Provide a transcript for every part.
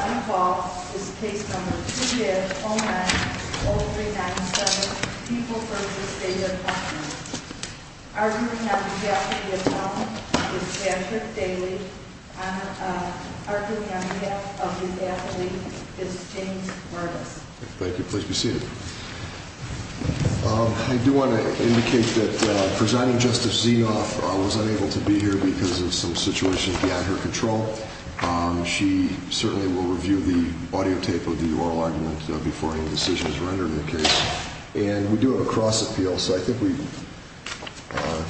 I do want to indicate that presiding justice Zinoff was unable to be here because of some of the issues that were brought up in the case and we do it across the field so I think we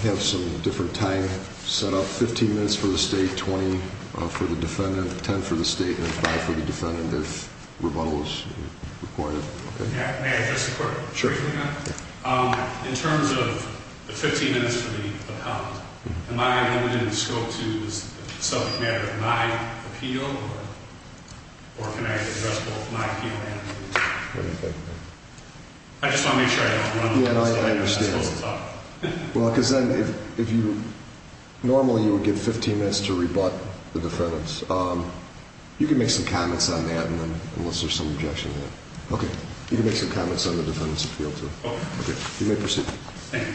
have some different time set up, 15 minutes for the state, 20 for the defendant, 10 for the state and 5 for the defendant if rebuttal is required. In terms of the 15 minutes to be rebuttal, can I use it in scope to subject my appeal or can I address both my appeal and my appeal? I just want to make sure I understand. Normally you would get 15 minutes to rebut the defendants. You can make some comments on that unless there is some objection. You can make your comments on the defendant's appeal too. You may proceed. Thank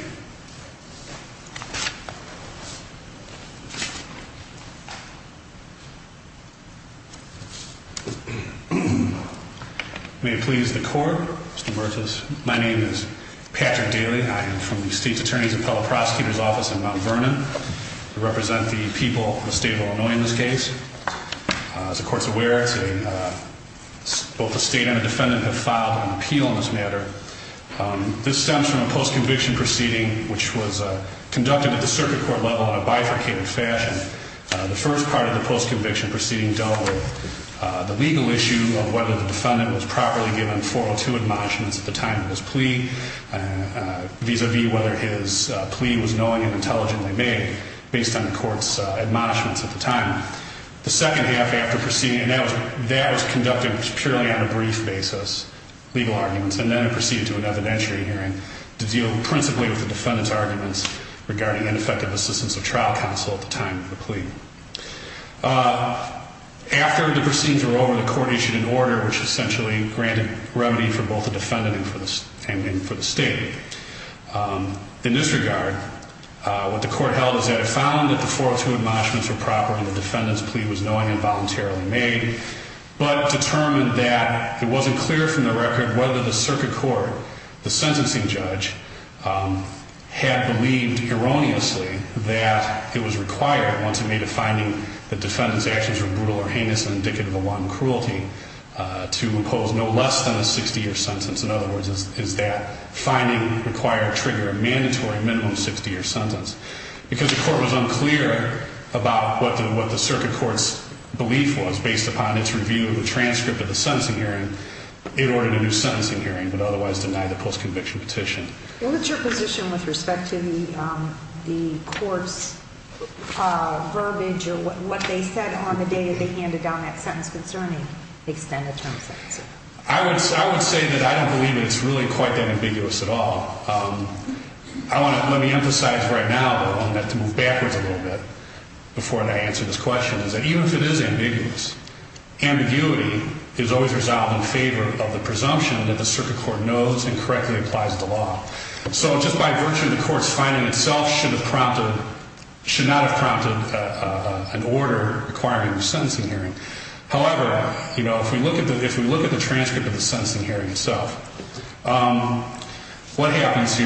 you. May it please the court. My name is Patrick Daly. I am from the state's attorney's appellate prosecutor's office in Mount Vernon. I represent the people of the state of Illinois in this case. As the court is aware, both the state and the defendant have filed an appeal on this matter. This stems from a post-conviction proceeding which was conducted at the circuit court level in a bifurcated fashion. The first part of the post-conviction proceeding dealt with the legal issue of whether the defendant was properly given 402 admonishments at the time of his plea vis-a-vis whether his plea was knowing and intelligently made based on the court's admonishments at the time. The second half after proceeding, that was conducted purely on a brief basis, legal arguments, and then proceeded to another bench re-hearing to deal principally with the defendant's arguments regarding ineffective assistance of trial counsel at the time of the plea. After the proceedings were over, the court issued an order which essentially granted remedy for both the defendant and for the state. In this regard, what the court held is that it found that the 402 admonishments were proper and the defendant's plea was knowing and voluntarily made, but determined that it wasn't clear from the record whether the circuit court, the sentencing judge, had believed erroneously that it was required once it made a finding that the defendant's actions were brutal or heinous and indicative of a wronged cruelty to impose no less than a 60-year sentence. In other words, is that finding required trigger a mandatory minimum 60-year sentence. Because the court was unclear about what the circuit court's belief was based upon its review of the transcript of the sentencing hearing, it ordered a new sentencing hearing, but otherwise denied a post-conviction petition. What was your position with respect to the court's verbiage or what they said on the day they handed down that sentence concerning the extended time? I would say that I don't believe it's really quite that ambiguous at all. Let me emphasize right now, but I want to move backwards a little bit before I answer this question, is that even if it is ambiguous, ambiguity is always resolved in favor of the presumption that the circuit court knows and correctly applies the law. So just by virtue of the court's finding itself should not have prompted an order requiring a sentencing hearing. However, if you look at the transcript of the sentencing hearing itself, what happens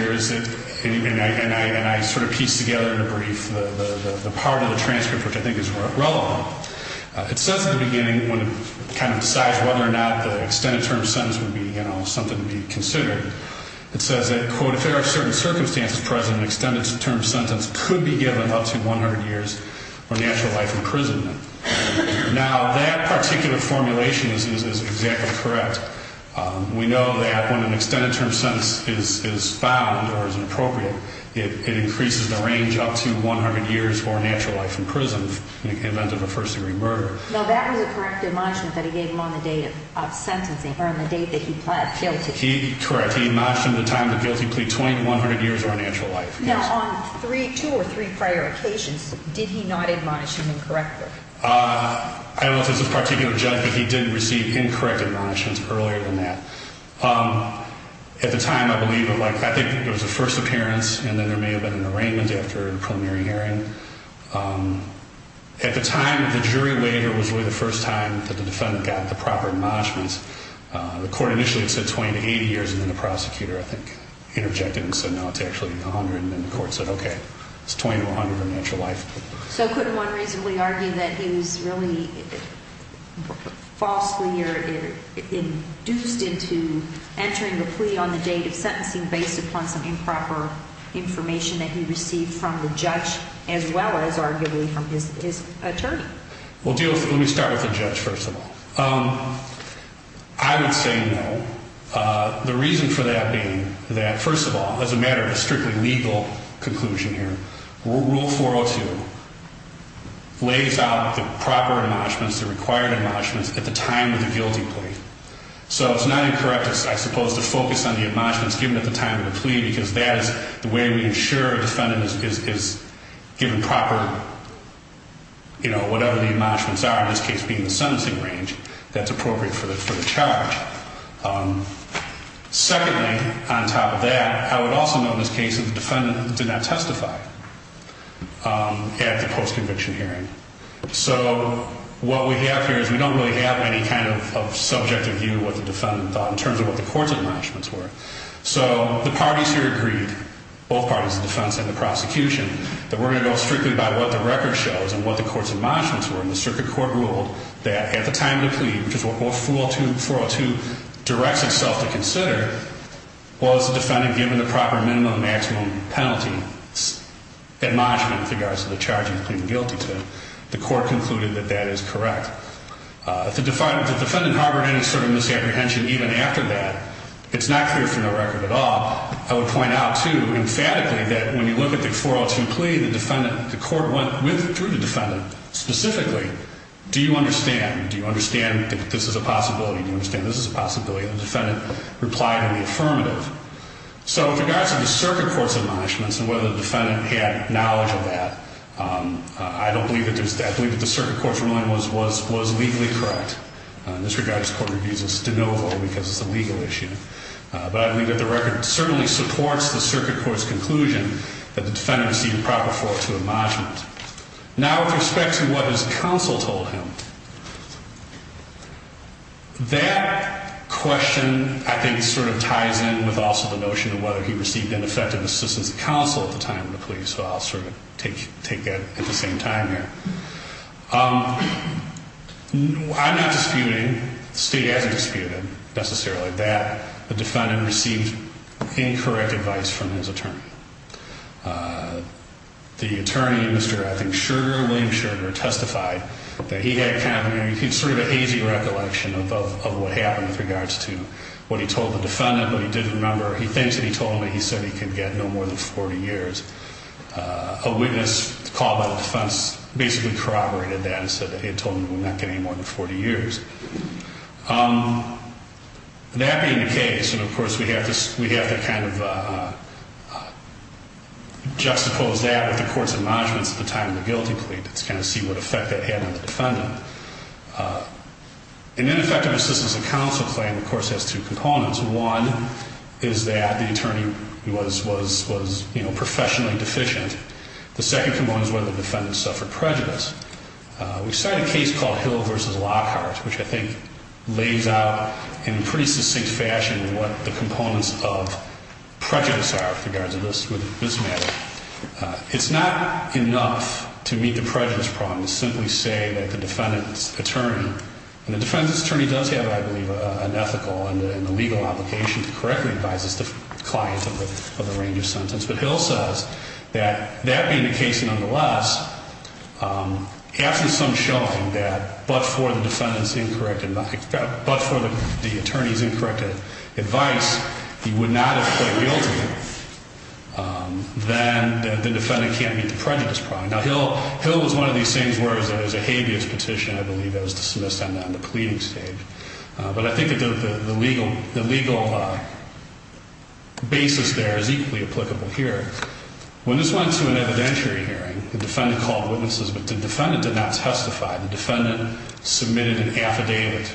It says at the beginning when it's kind of decided whether or not the extended term sentence would be something to be considered. It says that, quote, if there are certain circumstances present, an extended term sentence could be given up to 100 years for natural life in prison. Now, that particular formulation is exactly correct. We know that when an extended term sentence is found or is appropriate, it increases the Now, that was a corrective admonishment that he gave on the day of sentencing, or on the date that he was guilty. He's correct. He admonished him at the time of the guilty plea 2,100 years for unnatural life. Now, on two or three prior occasions, did he not admonish him as corrective? I don't know if it's a particular judge, but he did receive incorrect admonishments earlier than that. At the time, I believe it was the first appearance, and then there may have been an arraignment after preliminary hearing. At the time, the jury later was really the first time that the defendant got the proper admonishments. The court initially said 20 to 80 years, and then the prosecutor, I think, interjected and said, no, it's actually 100, and then the court said, okay, it's 20 to 100 for unnatural life. So could one reasonably argue that he was really falsely induced into entering the plea on the day of sentencing based upon some improper information that he received from the judge as well as, arguably, from his attorney? Well, let me start with the judge, first of all. I would say no. The reason for that being that, first of all, it doesn't matter if it's a strictly legal conclusion here. Rule 402 lays out the proper admonishments, the required admonishments, at the time of the guilty plea. So it's not incorrect, I suppose, to focus on the admonishments given at the time of given proper, you know, whatever the admonishments are, in this case being the sentencing range, that's appropriate for the charge. Secondly, on top of that, I would also note in this case that the defendant did not testify at the post-conviction hearing. So what we have here is we don't really have any kind of subjective view of what the defendant thought in terms of what the court's admonishments were. So the parties here agreed, both parties, the defense and the prosecution, that we're going to go strictly by what the record shows and what the court's admonishments were. And the circuit court ruled that at the time of the plea, which is what Rule 402 directs itself to consider, was the defendant given the proper minimum, maximum penalty admonishment in regards to the charge of the guilty plea. The court concluded that that is correct. The defendant however had a certain misapprehension even after that. It's not clear from the record at all. I would point out too, emphatically, that when you look at the 402 plea, the defendant, the court went through the defendant specifically. Do you understand? Do you understand that this is a possibility? Do you understand this is a possibility? The defendant replied in the affirmative. So in regards to the circuit court's admonishments and whether the defendant had knowledge of that, I believe that the circuit court's ruling was legally correct. In this regard, this court reviews this demilitarized because it's a legal issue. But I believe that the record certainly supports the circuit court's conclusion that the defendant received the proper forms of admonishment. Now with respect to what his counsel told him, that question I think sort of ties in with also the notion of whether he received ineffective assistance from counsel at the time of the plea. So I'll sort of take that at the same time there. I'm not disputing, Steve Adler disputed necessarily that the defendant received incorrect advice from his attorney. The attorney, Mr. Effing Shurger, William Shurger testified that he had kind of, he keeps sort of a hazy recollection of what happened in regards to what he told the defendant when he did the number. He thinks that he told him that he said he can get no more than 40 years. A witness called out the defense, basically corroborated that and said that he had told him he would not get any more than 40 years. That being the case, of course, we have to kind of juxtapose that with the court's admonishments at the time of the guilty plea to kind of see what effect that had on the defendant. An ineffective assistance from counsel claim, of course, has two components. One is that the attorney was, you know, professionally deficient. The second component is whether the defendant suffered prejudice. We cite a case called Hill v. Lockhart, which I think lays out in pretty succinct fashion what the components of prejudice are in regards to this matter. It's not enough to meet the prejudice problem to simply say that the defendant's attorney, and the defendant's attorney does have, I believe, an ethical and a legal obligation to correctly advise his client of the range of sentences, but Hill says that that being the case nonetheless, after some showing that but for the attorney's incorrect advice, he would not have played real again, then the defendant can't meet the prejudice problem. Now, Hill is one of these things where there's a habeas petition, I believe, that was dismissed on the pleading stage. But I think the legal basis there is equally applicable here. When this went through an evidentiary hearing, the defendant called witnesses, but the defendant did not testify. The defendant submitted an affidavit.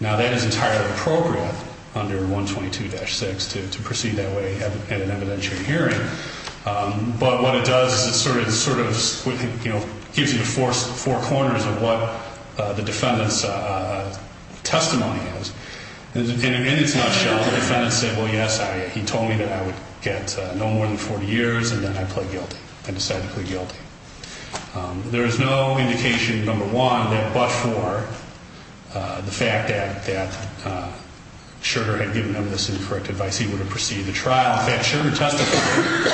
Now, that is entirely appropriate under 122-6 to proceed that way in an evidentiary hearing. But what it does is it sort of gives you four corners of what the defendant's testimony is. In a nutshell, the defendant said, well, yes, he told me that I would get no more than 40 years, and then I played guilty. I decided to play guilty. There is no indication, number one, that much more the fact that Sugar had given him this incorrect advice, he would have proceeded to trial. In fact, Sugar testified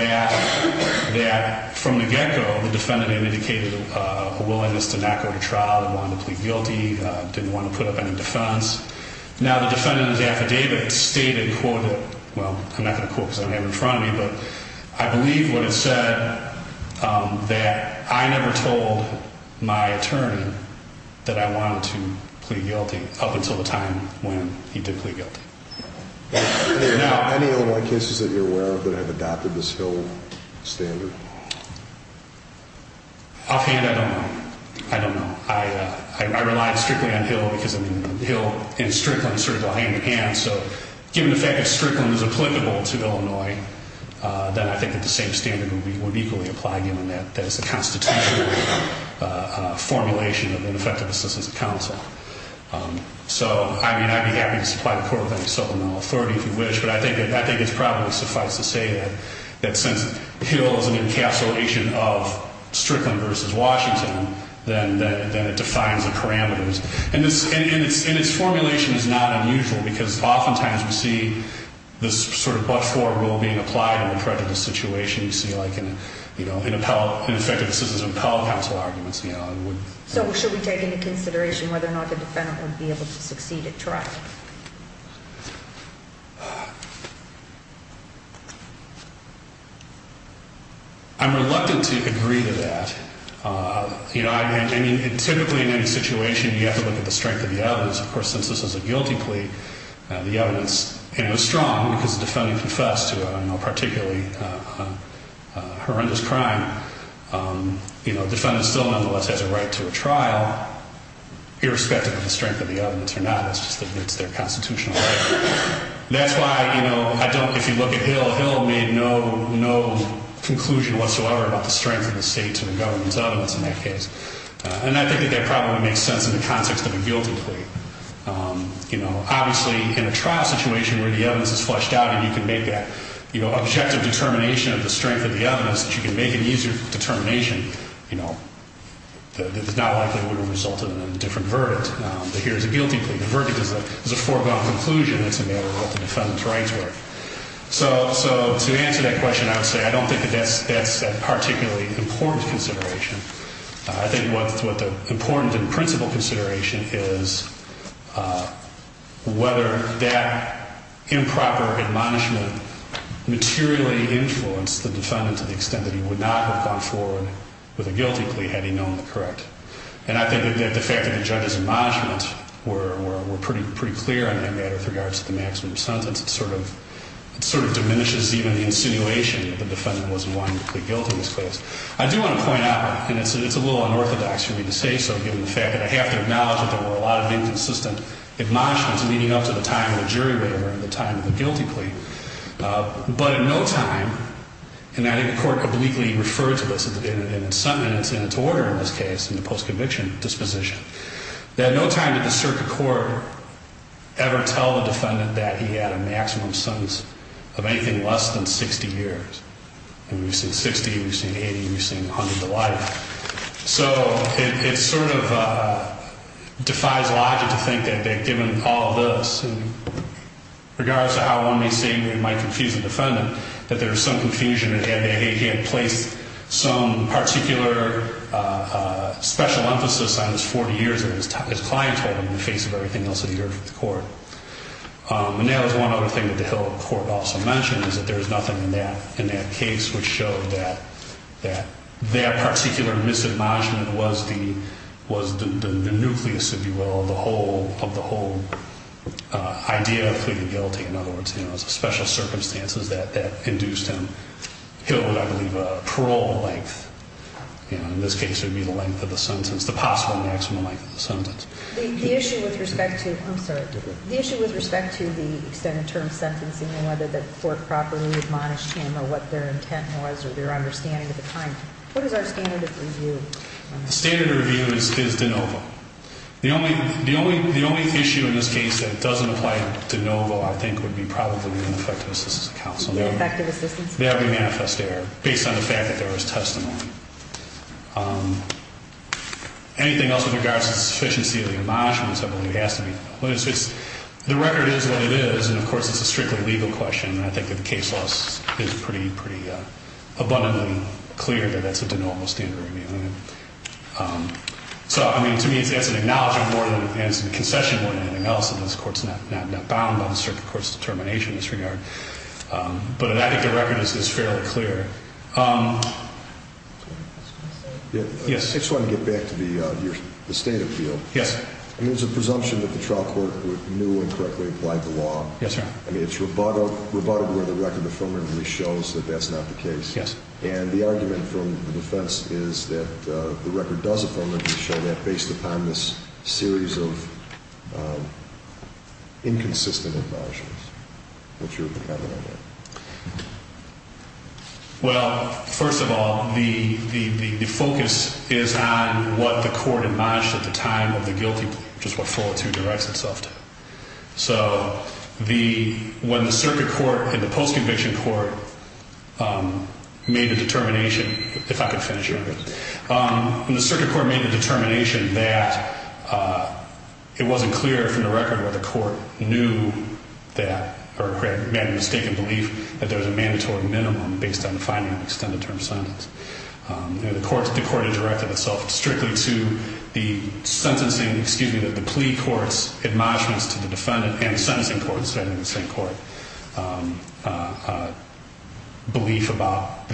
that from the get-go the defendant had indicated a willingness to not go to trial, wanted to play guilty, didn't want to put up any defense. Now, the defendant's affidavit stated, quote, well, I'm not going to quote because I don't have it in front of me, but I believe what it said that I never told my attorney that I wanted to play guilty up until the time when he did play guilty. Any other cases that you're aware of that have adopted this Hill standard? I'll hand that over. I don't know. I rely strictly on Hill because, I mean, Hill and Strickland sort of go hand-in-hand, so given the fact that Strickland was applicable to Illinois, then I think it's a safe statement that we would equally apply him on that. That's the constitutional formulation of an effective assistance counsel. So, I mean, I think that was quite appropriate, so I'm not authoritative in which, but I think it's probably suffice to say that since Hill is in the encapsulation of Strickland versus Washington, then it defines the parameters. And its formulation is not unusual because oftentimes we see this sort of bus-forward rule being applied in a prejudice situation. You see, like, in effective assistance of counsel arguments. So should we take into consideration whether or not the defendant would be able to succeed at trial? I'm reluctant to agree to that. You know, I mean, typically in any situation you have to look at the strength of the evidence. Of course, since this was a guilty plea, the evidence, you know, is strong because the defendant confessed to a particularly horrendous crime. You know, the defendant still nonetheless has a right to a trial, irrespective of the strength of the evidence or not. It's their constitutional right. That's why, you know, if you look at Hill, Hill made no conclusion whatsoever about the strength of the state's or the government's evidence in that case. And I think that that probably makes sense in the context of a guilty plea. You know, obviously in a trial situation where the evidence is fleshed out and you can make that, you know, objective determination of the strength of the evidence, that you can make an easier determination, you know, that does not ultimately result in a different verdict. But here's a guilty plea. The verdict is a foregone conclusion that's available to the defendant's right to it. So to answer that question, I would say I don't think that that's a particularly important consideration. I think what the important and principal consideration is whether that improper admonishment materially influenced the defendant to the extent that he would not have gone forward with a guilty plea had he known the correct. And I think that the fact that the judge's admonishments were pretty clear on that matter with regards to the maximum sentence sort of diminishes even the insinuation that the defendant was wrongfully guilty in this case. I do want to point out, and it's a little unorthodox for me to say so, given the fact that I have to acknowledge that there were a lot of inconsistent admonishments, leading up to the time of the jury error and the time of the guilty plea. But in no time, and I think the Court completely refers to this in its order in this case, in the post-conviction disposition, that in no time did the circuit court ever tell the defendant that he had a maximum sentence of anything less than 60 years. When we say 60, we say 80, we say hundreds of lives. So it sort of defies logic to think that given all of this, in regards to how one may say we might confuse the defendant, that there is some confusion and that he had placed some particular special emphasis on his 40 years or his clientele in the face of everything else that he heard from the Court. And that was one other thing that the Hill Court also mentioned, is that there is nothing in that case which showed that that particular misadmission was the nucleus, if you will, of the whole idea of pleading guilty. In other words, it was the special circumstances that induced him, Hill Court, I believe, a parole length. In this case, it would be the length of the sentence, the possible maximum length of the sentence. The issue with respect to, I'm sorry, The issue with respect to the extended term sentencing and whether the Court properly admonished him or what their intent was or their understanding at the time. What is our standard of review? The standard of review is de novo. The only issue in this case that doesn't apply to de novo, I think, would be probably the infractiousness of counsel. The effective efficiency? That would be manifest there, based on the fact that there was testimony. Anything else in regards to the efficiency of the admonishment, The record is what it is. And, of course, it's a strictly legal question. I think the case law is pretty abundantly clear that that's a de novo standard of review. So, I mean, to me, it has an analogy more than it has a concession to anything else. And this Court's not bound on strict court's determination in this regard. But I think the record is fairly clear. I just want to get back to the state of the field. There's a presumption that the trial court knew and correctly applied the law. It's rebuttable that the record affirmatively shows that that's not the case. And the argument from the defense is that the record does affirmatively show that, based upon this series of inconsistent acknowledgments that you're talking about. Well, first of all, the focus is on what the court admonished at the time of the guilty, which is what 42 directs itself to. So, when the circuit court and the post-conviction court made the determination, if I could finish here, please. When the circuit court made the determination that it wasn't clear from the record that the court knew that or made a mistake in belief that there was a mandatory minimum based on the finding of an extended term sentence, the court has directed itself strictly to the sentencing, excuse me, that the plea court's admonishments to the defendant and the sentencing court, the sentencing court belief about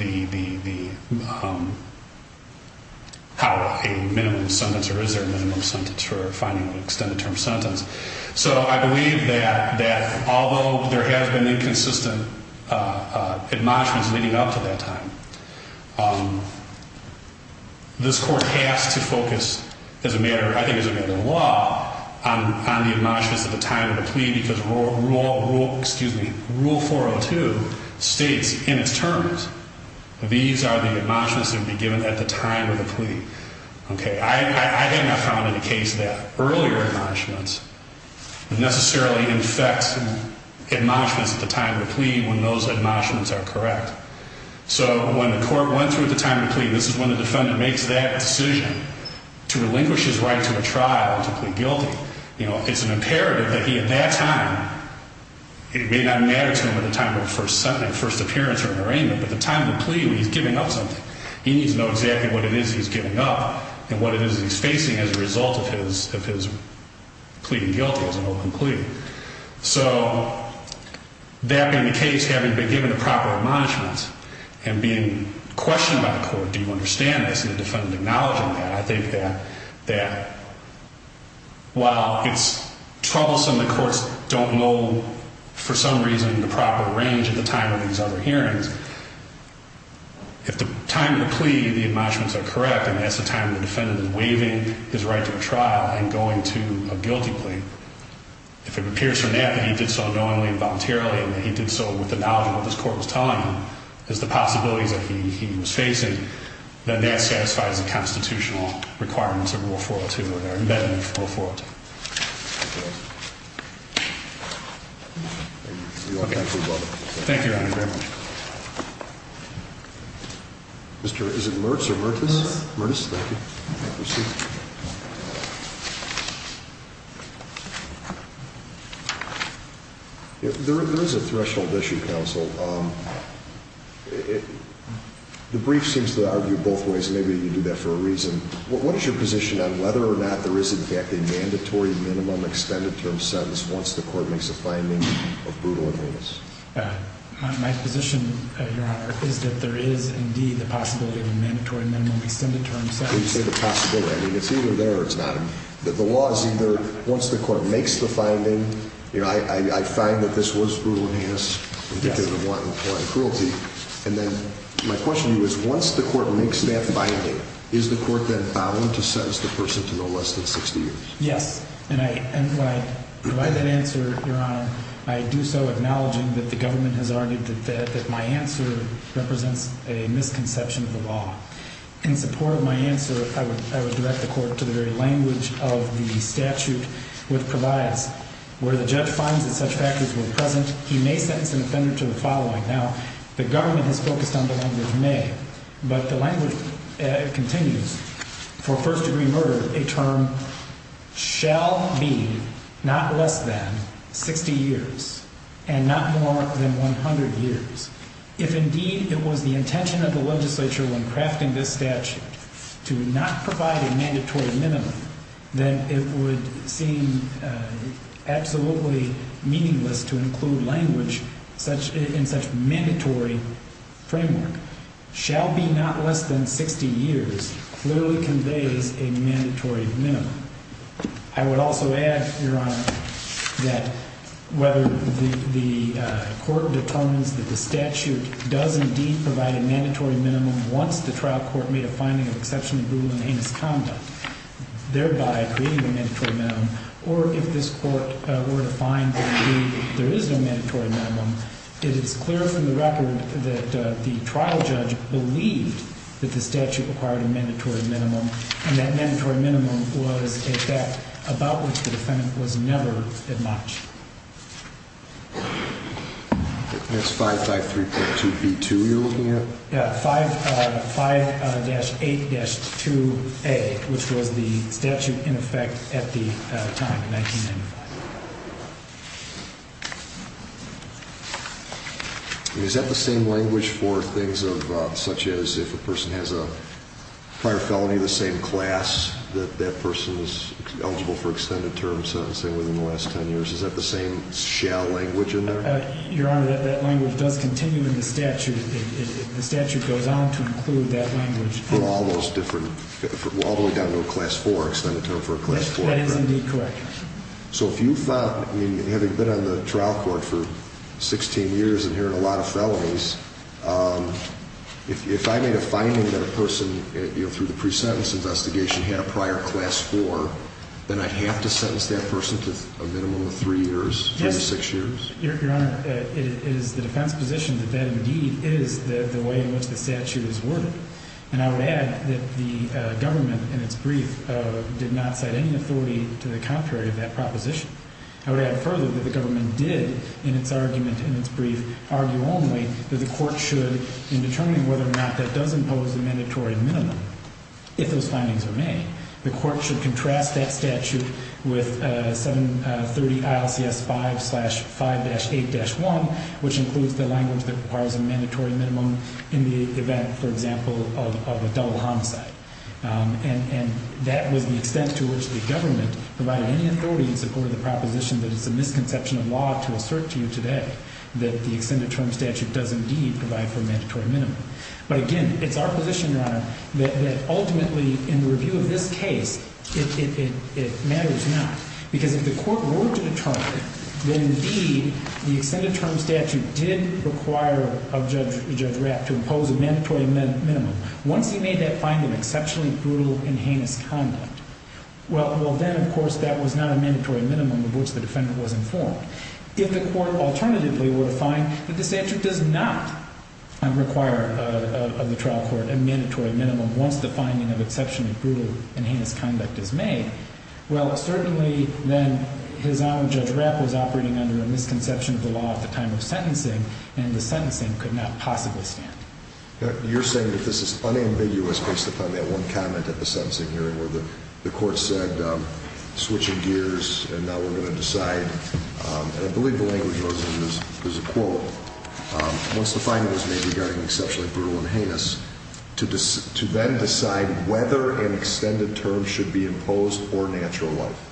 how a minimum sentence or is there a minimum sentence for a finding of an extended term sentence. So, I believe that although there have been inconsistent admonishments leading up to that time, this court has to focus, as a matter of law, on the admonishments at the time of the plea because Rule 402 states in its terms, these are the admonishments that would be given at the time of the plea. Okay, I have not found in a case that earlier admonishments necessarily in effect admonishments at the time of the plea when those admonishments are correct. So, when the court, once at the time of the plea, this is when the defendant makes that decision to relinquish his right to the trial and to plead guilty, you know, it's an imperative that he, at that time, it may not matter to him at the time of the first appearance or arraignment, but at the time of the plea when he's giving up something, he needs to know exactly what it is he's giving up and what it is he's facing as a result of his pleading guilty as an open plea. So, that being the case, having been given the proper admonishments and being questioned by the court, do you understand this, and the defendant acknowledging that, I think that while it's troublesome the courts don't know, for some reason, the proper range of the time of these other hearings, if the time of the plea and the admonishments are correct, and that's the time the defendant is waiving his right to a trial and going to a guilty plea, if it appears to him that he did so knowingly and voluntarily and that he did so with the knowledge of what this court was telling him, is the possibility that he was facing, then that satisfies the constitutional requirements of Rule 402 or the embedment of Rule 402. Thank you. You're welcome. Thank you, Your Honor. Mr. Richardson, Mertz or Mertz? Mertz. Mertz, thank you. Have a seat. There is a threshold issue, counsel. The brief seems to argue both ways. Maybe you do that for a reason. What is your position on whether or not there is, in fact, a mandatory minimum extended term sentence once the court makes a finding of brutal meanness? My position, Your Honor, is that there is, indeed, the possibility of a mandatory minimum extended term sentence. You say the possibility. I mean, if you were there, it's not. The law is either once the court makes the finding, I find that this was brutal meanness because of warrant of foreign cruelty, and then my question to you is once the court makes that finding, is the court then bound to sentence the person to no less than 60 years? Yes. And by that answer, Your Honor, I do so acknowledging that the government has argued that my answer represents a misconception of the law. In support of my answer, I would direct the court to the very language of the statute which provides where the judge finds that such act is in the presence, he may sentence the defendant to the following. Now, the government has focused on the language may, but the language continues. For first-degree murder, a term shall be not less than 60 years and not more than 100 years. If, indeed, it was the intention of the legislature when crafting this statute to not provide a mandatory minimum, then it would seem absolutely meaningless to include language in such mandatory framework. The statute shall be not less than 60 years clearly conveys a mandatory minimum. I would also add, Your Honor, that whether the court determines that the statute does indeed provide a mandatory minimum once the trial court made a finding of the perfection of brutal and heinous conduct, thereby creating a mandatory minimum, or if this court were to find that, indeed, there is a mandatory minimum, it is clear from the record that the trial judge believed that the statute provided a mandatory minimum, and that mandatory minimum was a fact about which the defendant was never that much. That's 5-8-2-A, which was the statute in effect at the time of making it. Is that the same language for things such as if a person has a prior felony of the same class, that that person is eligible for extended terms, say, within the last 10 years? Is that the same shall language in that? Your Honor, that language does continue in the statute. The statute goes on to include that language. For all those different, all the way down to a class 4, extended term for a class 4? Yes, that is indeed correct. So if you thought, I mean, having been on the trial court for 16 years and hearing a lot of felonies, if I may have finding that a person, through the pre-sentence investigation, had a prior class 4, then I have to sentence that person to a minimum of 3 years, 26 years? Yes. Your Honor, it is the defense's position that that indeed is the way in which the statute is worded. And I would add that the government, in its brief, did not have any authority to the contrary of that proposition. I would add further that the government did, in its argument in its brief, argue only that the court should, in determining whether or not that does impose the mandatory minimum, if those findings are made, the court should contrast that statute with 730 ILCS 5-5-8-1, which includes the language that requires a mandatory minimum in the event, for example, of a felon homicide. And that would be sent to which the government provided any authority to support the proposition that is the misconception of law to assert to you today that the extended term statute does indeed provide the mandatory minimum. But again, it's our position, Your Honor, that ultimately, in the review of this case, it matters not. Because if the court were to determine that indeed the extended term statute did require a judge to impose a mandatory minimum, once you made that finding exceptionally brutal and heinous to conduct, well then, of course, that was not a mandatory minimum in which the defendant was informed. If the court, alternatively, were to find that the statute does not require of the trial court a mandatory minimum once the finding of exceptionally brutal and heinous conduct is made, well, certainly then, His Honor, Judge Rapp was operating under a misconception of the law at the time of sentencing, and the sentencing could not possibly stand. You're saying that this is unambiguous based upon that one comment at the sentencing hearing where the court said, switching gears, and now we're going to decide, and I believe the language was a quote, once the finding was made regarding exceptionally brutal and heinous, to then decide whether an extended term should be imposed or natural life.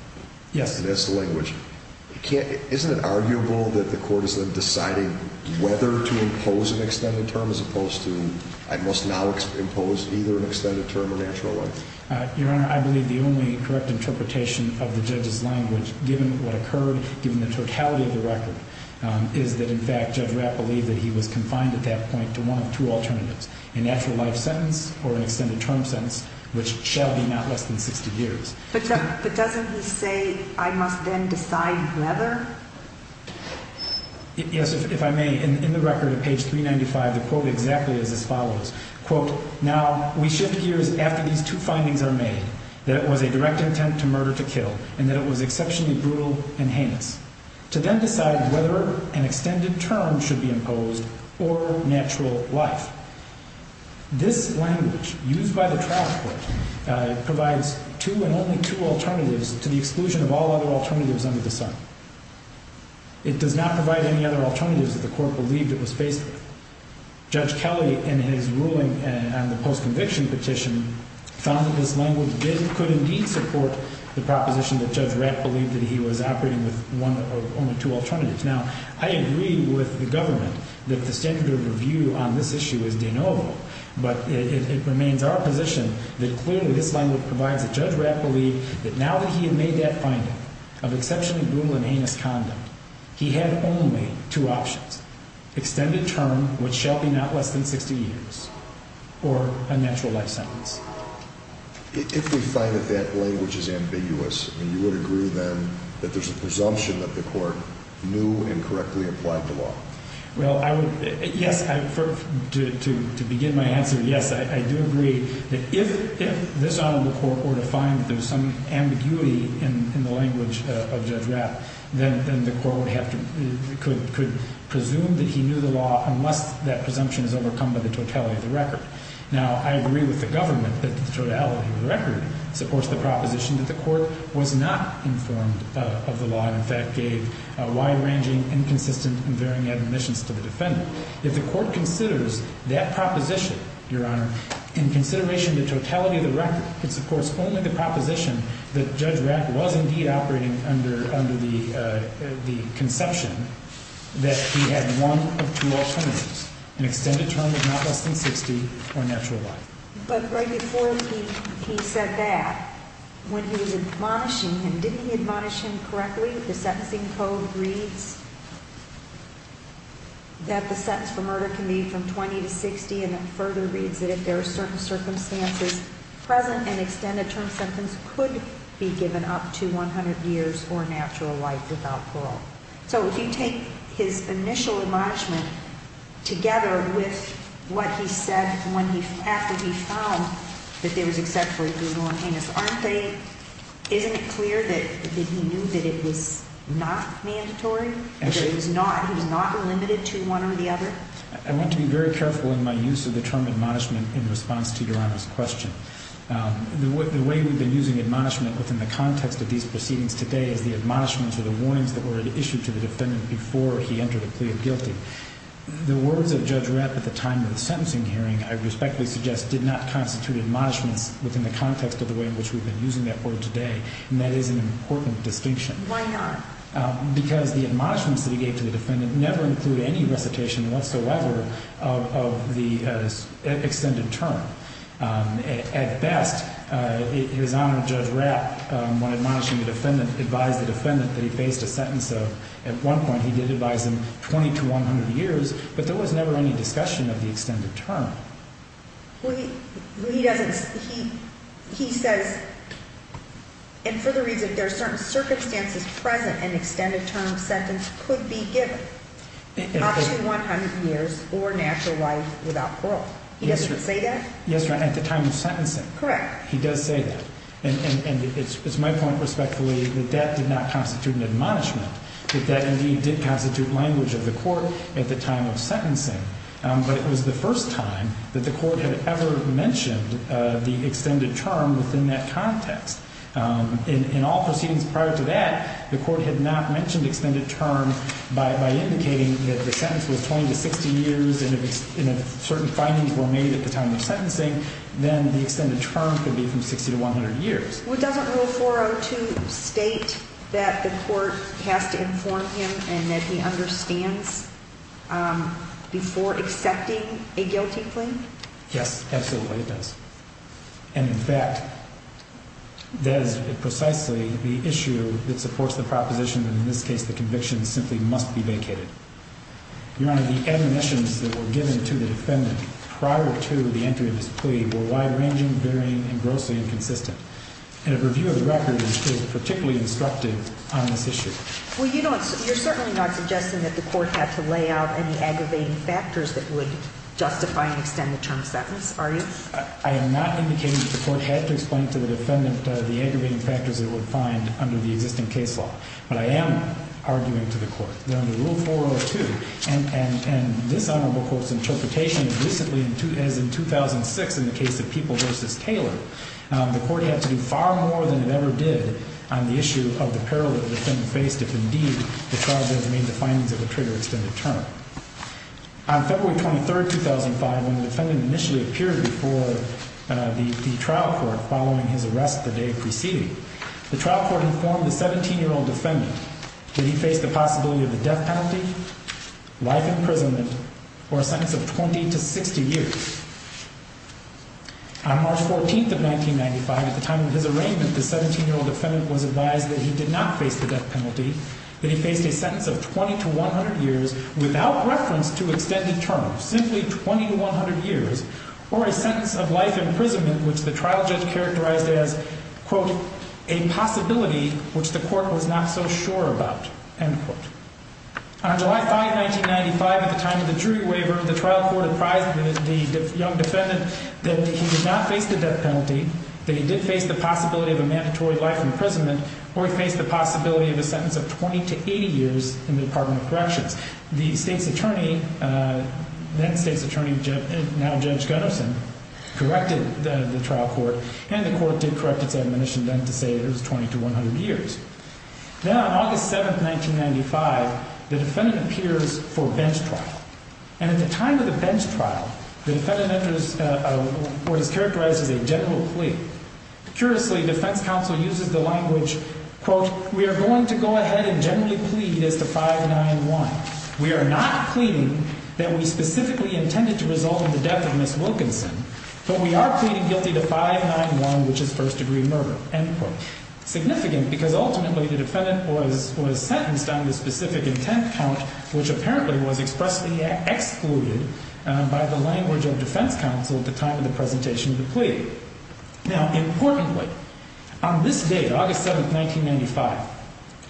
That's the language. Isn't it arguable that the court is then deciding whether to impose an extended term as opposed to, I must now impose either an extended term or natural life? Your Honor, I believe the only correct interpretation of the judge's language, given what occurred, given the totality of the record, is that, in fact, Judge Rapp believed that he was confined at that point to want two alternatives, a natural life sentence or an extended term sentence, which shall be not less than 60 years. But doesn't he say, I must then decide whether? Yes, if I may, in the record at page 395, the quote exactly is as follows. Quote, now we shift gears after these two findings are made, that it was a direct intent to murder to kill, and that it was exceptionally brutal and heinous, to then decide whether an extended term should be imposed or natural life. This language used by the class court provides two and only two alternatives to the exclusion of all other alternatives under the sun. It does not provide any other alternatives if the court believed it was basic. Judge Kelly, in his ruling on the post-conviction petition, found that this language could indeed support the proposition that Judge Rapp believed that he was operating with only two alternatives. Now, I agree with the government that the standard of review on this issue is deniable, but it remains our position that clearly this language provides that Judge Rapp believed that now that he had made that finding of exceptionally brutal and heinous condom, he had only two options, extended term, which shall be not less than 50 years, or a natural life sentence. If we find that that language is ambiguous, then you would agree then that there's a presumption that the court knew and correctly applied the law? Well, I would, yes, to begin my answer, yes, I do agree that if this honor report were to find that there's some ambiguity in the language of Judge Rapp, then the court would have to, could presume that he knew the law unless that presumption is overcome by the totality of the record. Now, I agree with the government that the totality of the record supports the proposition that the court was not informed of the law and in fact gave a wide-ranging, inconsistent, and varying admissions to the defendant. If the court considers that proposition, Your Honor, in consideration of the totality of the record, it supports only the proposition that Judge Rapp was indeed operating under the conception that he had one of two alternatives, extended term is not less than 50, or a natural life. But right before he said that, when he was admonishing him, didn't he admonish him correctly? Did that same code read that the sentence for murder can be from 20 to 60 and it further reads that if there are certain circumstances, present and extended term sentences could be given up to 100 years or natural life without parole. So if you take his initial admonishment together with what he said when he, after he found that there was except for a reasonable and heinous offense, isn't it clear that he knew that it was not mandatory, that he was not, he was not limited to one or the other? I want to be very careful in my use of the term admonishment in response to Your Honor's question. The way we've been using admonishment within the context of these proceedings today is the admonishments that were issued to the defendant before he entered a plea of guilty. The words of Judge Rapp at the time of the sentencing hearing, I respectfully suggest, did not constitute admonishment within the context of the way in which we've been using that word today, and that is an important distinction. Why not? Because the admonishments that he gave to the defendant never include any reputation whatsoever of the extended term. At best, Your Honor, Judge Rapp, when admonishing the defendant, advised the defendant that he faced a sentence of, at one point, he did advise him 20 to 100 years, but there was never any discussion of the extended term. Well, he doesn't, he says, and for the reason that there are certain circumstances present, an extended term of sentence could be given, possibly 100 years or naturalized without parole. Does he say that? Yes, Your Honor, at the time of sentencing. Correct. He does say that. And it's my point, respectfully, that that did not constitute an admonishment, that that indeed did constitute language of the court at the time of sentencing, but it was the first time that the court had ever mentioned the extended term within that context. In all proceedings prior to that, the court had not mentioned the extended term by indicating that the sentence was 20 to 50 years, and if certain findings were made at the time of sentencing, then the extended term could be from 60 to 100 years. Would the federal rule 402 state that the court has to inform him and that he understands before accepting a guilty plea? Yes, that's what it does. And, in fact, that is precisely the issue that supports the proposition, and in this case the conviction simply must be vacated. Your Honor, the admonitions that were given to the defendant prior to the entry of the plea were wide-ranging, varying, and grossly inconsistent. And a review of the record is particularly instructive on this issue. Well, you know, you're certainly not suggesting that the court has to lay out any aggravating factors that would justify an extended term sentence, are you? I am not indicating that the court has to explain to the defendant the aggravating factors it would find under the existing case law, but I am arguing to the court that under Rule 402, and this element, of course, in transportation, as in 2006 in the case of People v. Taylor, the court has to do far more than it ever did on the issue of the paralegal that the defendant faced if, indeed, the trial doesn't need to find him for the trigger extended term. On February 23, 2005, when the defendant initially appeared before the trial court following his arrest the day preceding, the trial court informed the 17-year-old defendant that he faced the possibility of the death penalty, life imprisonment, for a length of 20 to 60 years. On March 14, 1995, at the time of his arraignment, the 17-year-old defendant was advised that he did not face the death penalty, that he faced a sentence of 20 to 100 years without reference to extended term, simply 20 to 100 years, or a sentence of life imprisonment which the trial judge characterized as, quote, a possibility which the court was not so sure about, end quote. On July 5, 1995, at the time of the jury waiver, the trial court advised the young defendant that he did not face the death penalty, that he did face the possibility of a mandatory life imprisonment, or he faced the possibility of a sentence of 20 to 80 years in the Department of Correction. The state's attorney, then state's attorney, now Judge Gunnison, corrected the trial court, and the court did correct his admonition then to say that it was 20 to 100 years. Now, on August 7, 1995, the defendant appears for a bench trial. And at the time of the bench trial, the defendant was characterized as a general plea. Curiously, the second counsel uses the language, quote, we are going to go ahead and generally plead as a 5-9-1. We are not pleading that we specifically intended to resolve the death of Ms. Wilkinson, but we are pleading guilty to 5-9-1, which is first degree murder, end quote. Significant, because ultimately the defendant was sentenced under a specific intent count, which apparently was expressly excluded by the language of the second counsel at the time of the presentation of the plea. Now, importantly, on this day, August 7, 1995,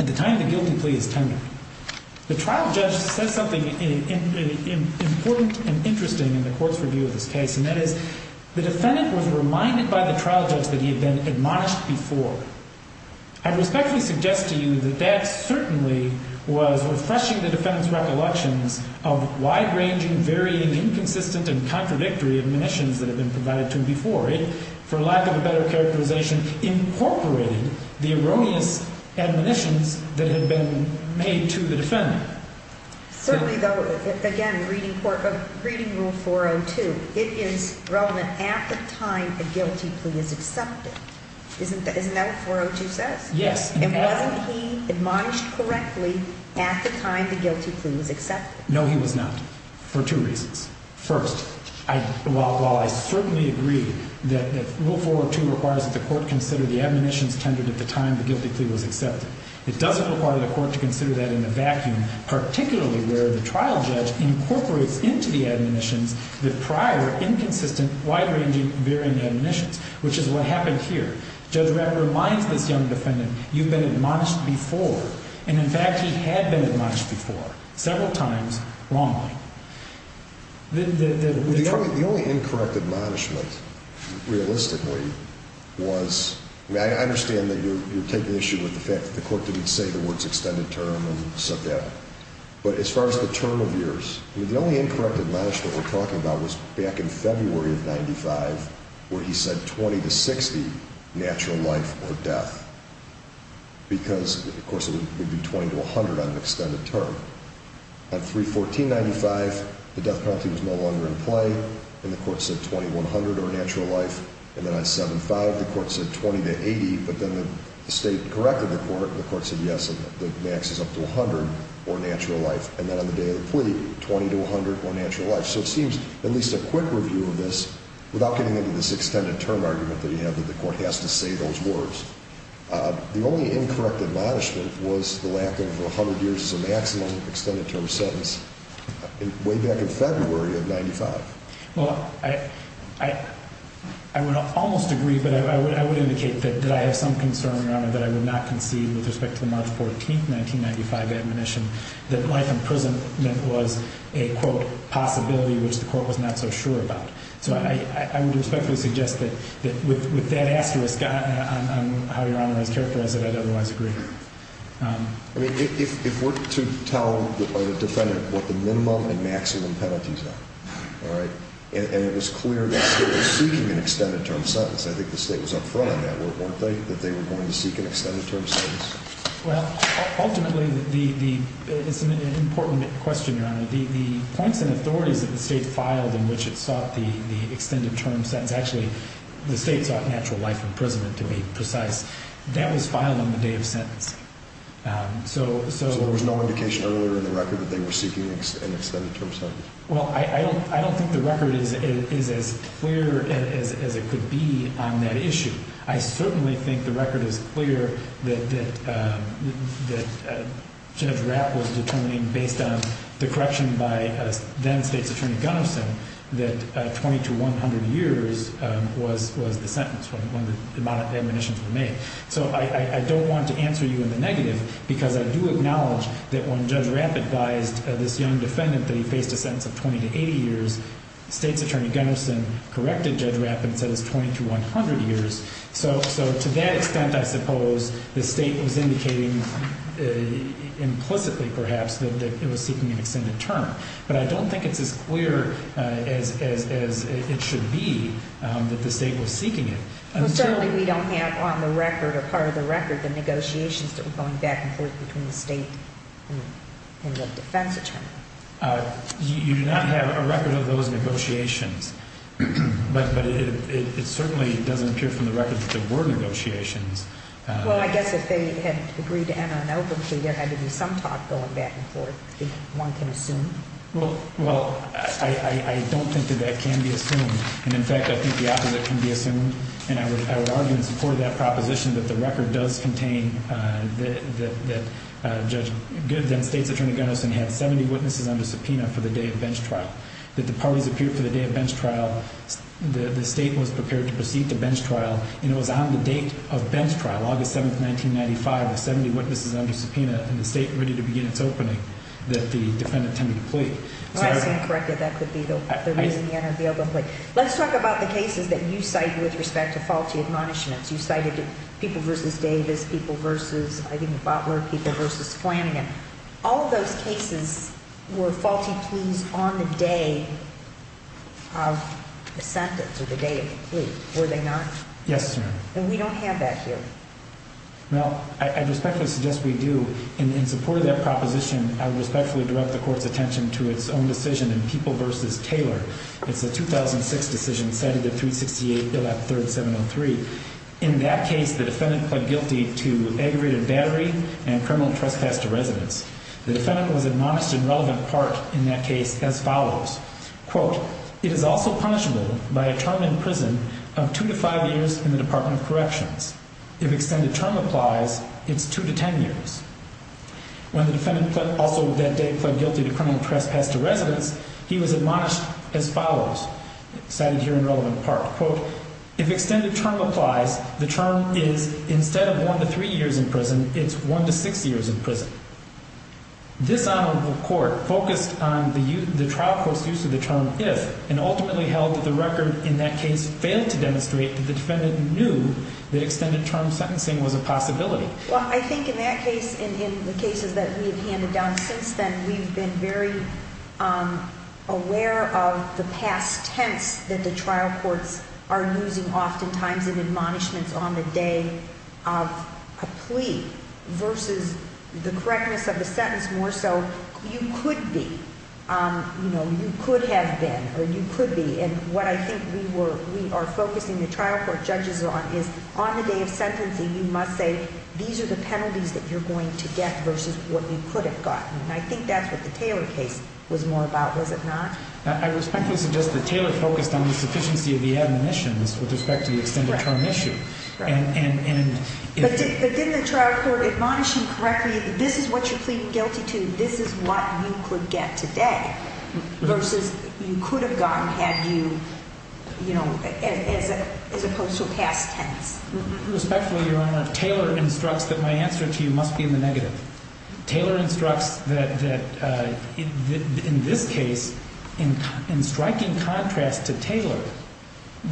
at the time of the guilty plea of the defendant, the trial judge said something important and interesting in the court's review of the case, and that is the defendant was reminded by the trial judge that he had been admonished before. I respectfully suggest to you that that certainly was refreshing the defendant's recollection of wide-ranging, varying, inconsistent, and contradictory admonitions that had been provided to him before. It, for lack of a better characterization, incorporated the erosions and admonitions that had been made to the defendant. Firstly, though, again, reading Rule 402, it is relevant at the time the guilty plea is accepted. Isn't that what 402 says? Yes. And was he admonished correctly at the time the guilty plea was accepted? No, he was not, for two reasons. First, while I certainly agree that Rule 402 requires that the court consider the admonitions tended at the time the guilty plea was accepted, it doesn't require the court to consider that in the vacuum, particularly where the trial judge incorporates into the admonitions the prior, inconsistent, wide-ranging, varying admonitions, which is what happened here. So that reminds the defendant you've been admonished before, and, in fact, you had been admonished before, several times, wrongly. The only incorrect admonishment, realistically, was, I understand that you're taking issue with the fact that the court didn't say the words extended term and sub-death, but as far as the term of years, the only incorrect admonishment we're talking about is back in February of 95, where he said 20 to 60, natural life or death, because, of course, it would be 20 to 100 on an extended term. On 3-14-95, the death penalty was no longer in play, and the court said 2100 or natural life, and then on 7-5, the court said 20 to 80, but then the state corrected the court, the court said yes, the max is up to 100 for natural life, and then on the day of the plea, 20 to 100 for natural life. So it seems, at least a quick review of this, without getting into this extended term argument that you have, that the court has to say those words. The only incorrect admonishment was the lack of 100 years as a maximum extended term sentence, way back in February of 95. Well, I would almost agree, but I would indicate that I have some concern, Your Honor, that I would not concede with respect to March 14, 1995, that my imprisonment was a, quote, possibility which the court was not so sure about. So I would respectfully suggest that with that accuracy, Your Honor, I would characterize it as otherwise. If we're to tell a defendant what the minimum and maximum penalties are, and it's clear that they're seeking an extended term sentence, I think the state was up front on that at one point, that they were going to seek an extended term sentence. Well, ultimately, it's an important question, Your Honor. The points and authorities that the state filed in which it sought the extended term sentence, actually, the state got natural life imprisonment, to be precise. That was filed on the day of sentence. So there was no indication earlier in the record that they were seeking an extended term sentence? Well, I don't think the record is as clear as it could be on that issue. I certainly think the record is clear that Judge Rapp was determining, based on the correction by then State's Attorney Gunnison, that 20 to 100 years was the sentence when the admonitions were made. So I don't want to answer you in the negative, because I do acknowledge that when Judge Rapp advised this young defendant that he faced a sentence of 20 to 80 years, State's Attorney Gunnison corrected Judge Rapp and said 20 to 100 years. So to that extent, I suppose, the state was indicating implicitly, perhaps, that it was seeking an extended term. But I don't think it's as clear as it should be that the state was seeking it. Certainly, we don't have on the record or part of the record the negotiations that were going back and forth between the state and the defense attorney. You do not have a record of those negotiations. But it certainly doesn't appear from the record that there were negotiations. Well, I guess if they had agreed to have an open hearing, there had to be some talk going back and forth, one can assume. Well, I don't think that that can be assumed. And, in fact, I think the opposite can be assumed. And I would argue in support of that proposition that the record does contain that Judge Gibbs and State's Attorney Gunnison had 70 witnesses on the subpoena for the day of bench trial. The parties appeared for the day of bench trial. The state was prepared to proceed to bench trial. And it was on the date of bench trial, August 7, 1995, that 70 witnesses were on the subpoena, and the state was ready to begin the opening that the plaintiff had completed. All right. That's correct. That could be the leaning in on the other place. Let's talk about the cases that you cite with respect to faulty admonishments. You cited the people versus Davis, people versus, I think, the Butler people versus Flanagan. All of those cases were faulty students on the day of the sentence, or the day of the plea. Were they not? Yes, ma'am. Then we don't have that here. Well, I respectfully suggest we do. In support of that proposition, I respectfully direct the Court's attention to its own decision in people versus Taylor. It's a 2006 decision cited in 368, Bill F-3703. In that case, the defendant pled guilty to aggravated battery and criminal trespass to residence. The defendant was admonished in relevant part in that case as follows. Quote, it is also punishable by a term in prison of two to five years in the Department of Corrections. If extended term applies, it's two to ten years. When the defendant also pled guilty to criminal trespass to residence, he was admonished as follows. That is here in relevant part. Quote, if extended term applies, the term is instead of one to three years in prison, it's one to six years in prison. This honorable court focused on the trial court's use of the term if, and ultimately held that the record in that case failed to demonstrate that the defendant knew that extended term sentencing was a possibility. Well, I think in that case and in the cases that we have handed down since then, we've been very aware of the past tense that the trial courts are using oftentimes with admonishments on the day of a plea versus the correctness of the sentence more so. You could be, you know, you could have been or you could be, and what I think we are focusing the trial court judges on is on the day of sentencing, you must say these are the penalties that you're going to get versus what you could have gotten. And I think that's what the Taylor case was more about, was it not? I was trying to suggest that Taylor focused on the proficiency of the admonitions with respect to the extended term issue. But didn't the trial court admonish you correctly that this is what you plead guilty to and this is what you could get today versus you could have gotten had you, you know, as opposed to past tense? Respectfully, Your Honor, Taylor instructs that my answer to you must be in the negative. Taylor instructs that in this case, in striking contrast to Taylor,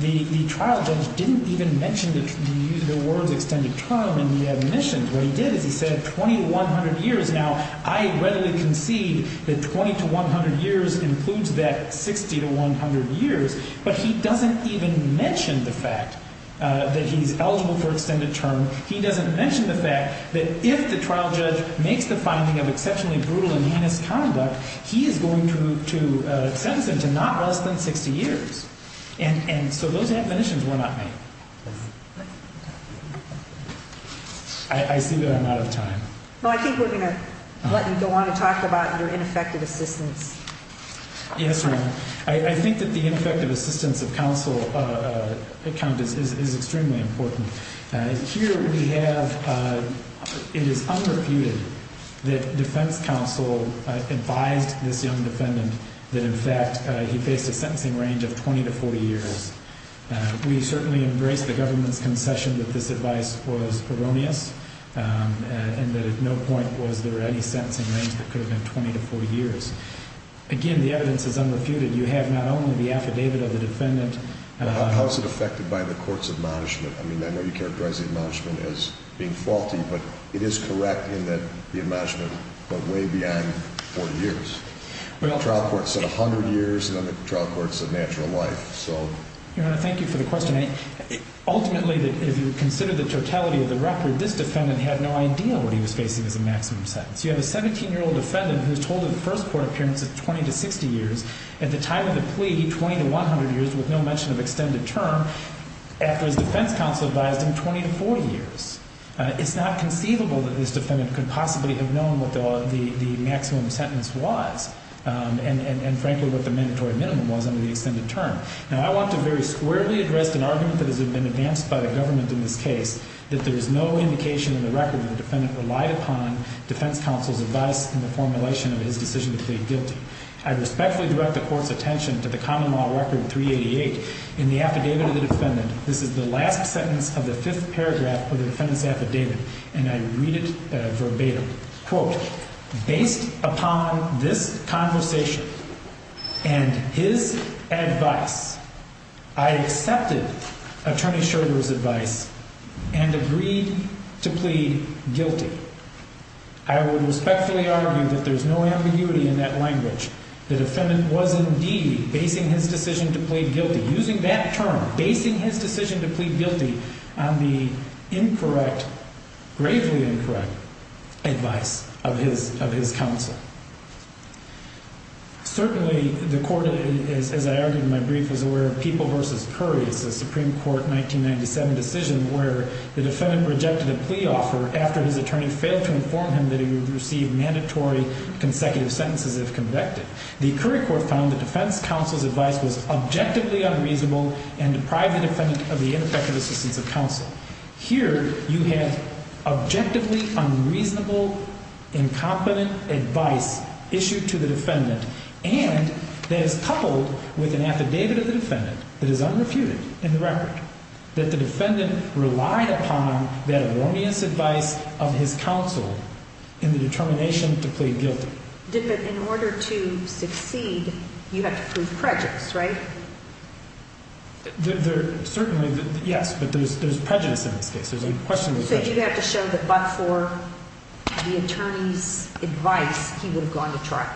the trial judge didn't even mention that he used the word extended term in the admonitions. What he did is he said 20 to 100 years. Now, I readily concede that 20 to 100 years includes that 60 to 100 years, but he doesn't even mention the fact that he's eligible for extended term. He doesn't mention the fact that if the trial judge makes the finding of exceptionally brutal and heinous conduct, he is going to sentence him to not less than 60 years. And so those admonitions were not made. I see that I'm out of time. Well, I think we're going to let you go on to talk about your ineffective assistance. Yes, Your Honor. I think that the ineffective assistance of counsel is extremely important. Here we have it is unrefuted that defense counsel confides with the undefendant that in fact he faced a sentencing range of 20 to 40 years. We certainly embrace the government's concession that this advice spoils paronia, and there's no point for us to go to any sentencing range for prison of 20 to 40 years. Again, the evidence is unrefuted. You have not only the affidavit of the defendant. How is it affected by the court's admonishment? I mean, I know you characterize the admonishment as being faulty, but it is correct in that the admonishment went way beyond 40 years. The trial court said 100 years, and then the trial court said natural life. Your Honor, thank you for the question. Ultimately, if you consider the totality of the record, this defendant had no idea what he was facing at the maximum sentence. You have a 17-year-old defendant who was told in the first court appearance that 20 to 50 years. At the time of the plea, 20 to 100 years was no mention of extended term after the defense counsel advised him 20 to 40 years. It's not conceivable that this defendant could possibly have known what the maximum sentence was and frankly what the mandatory minimum was under the extended term. Now, I want to very squarely address an argument that has been advanced by the government in this case, that there is no indication in the record that the defendant relied upon defense counsel's advice in the formulation of his decision to plead guilty. I respectfully direct the court's attention to the common law record 388 in the affidavit of this defendant. This is the last sentence of the fifth paragraph of the defendant's affidavit, and I read it verbatim. Quote, based upon this conversation and his advice, I accepted Attorney Schroeder's advice and agreed to plead guilty. I would respectfully argue that there's no ambiguity in that language. The defendant was indeed basing his decision to plead guilty, using that term, basing his decision to plead guilty on the incorrect, gravely incorrect advice of his counsel. Certainly, the court, as I argued in my brief, is aware of People v. Curry, which was a Supreme Court 1997 decision where the defendant rejected a plea offer after his attorney failed to inform him that he would receive mandatory consecutive sentences if convicted. The Curry court found that defense counsel's advice was objectively unreasonable and deprived the defendant of the intersected assistance of counsel. Here, you have objectively unreasonable, incompetent advice issued to the defendant, and that is coupled with an affidavit of the defendant that is unrefuted in the record, that the defendant relied upon that erroneous advice of his counsel in the determination to plead guilty. In order to exceed, you have to prove prejudice, right? Certainly, yes, but there's prejudice in it. So you have to show that but for the attorney's advice, he would have gone to trial.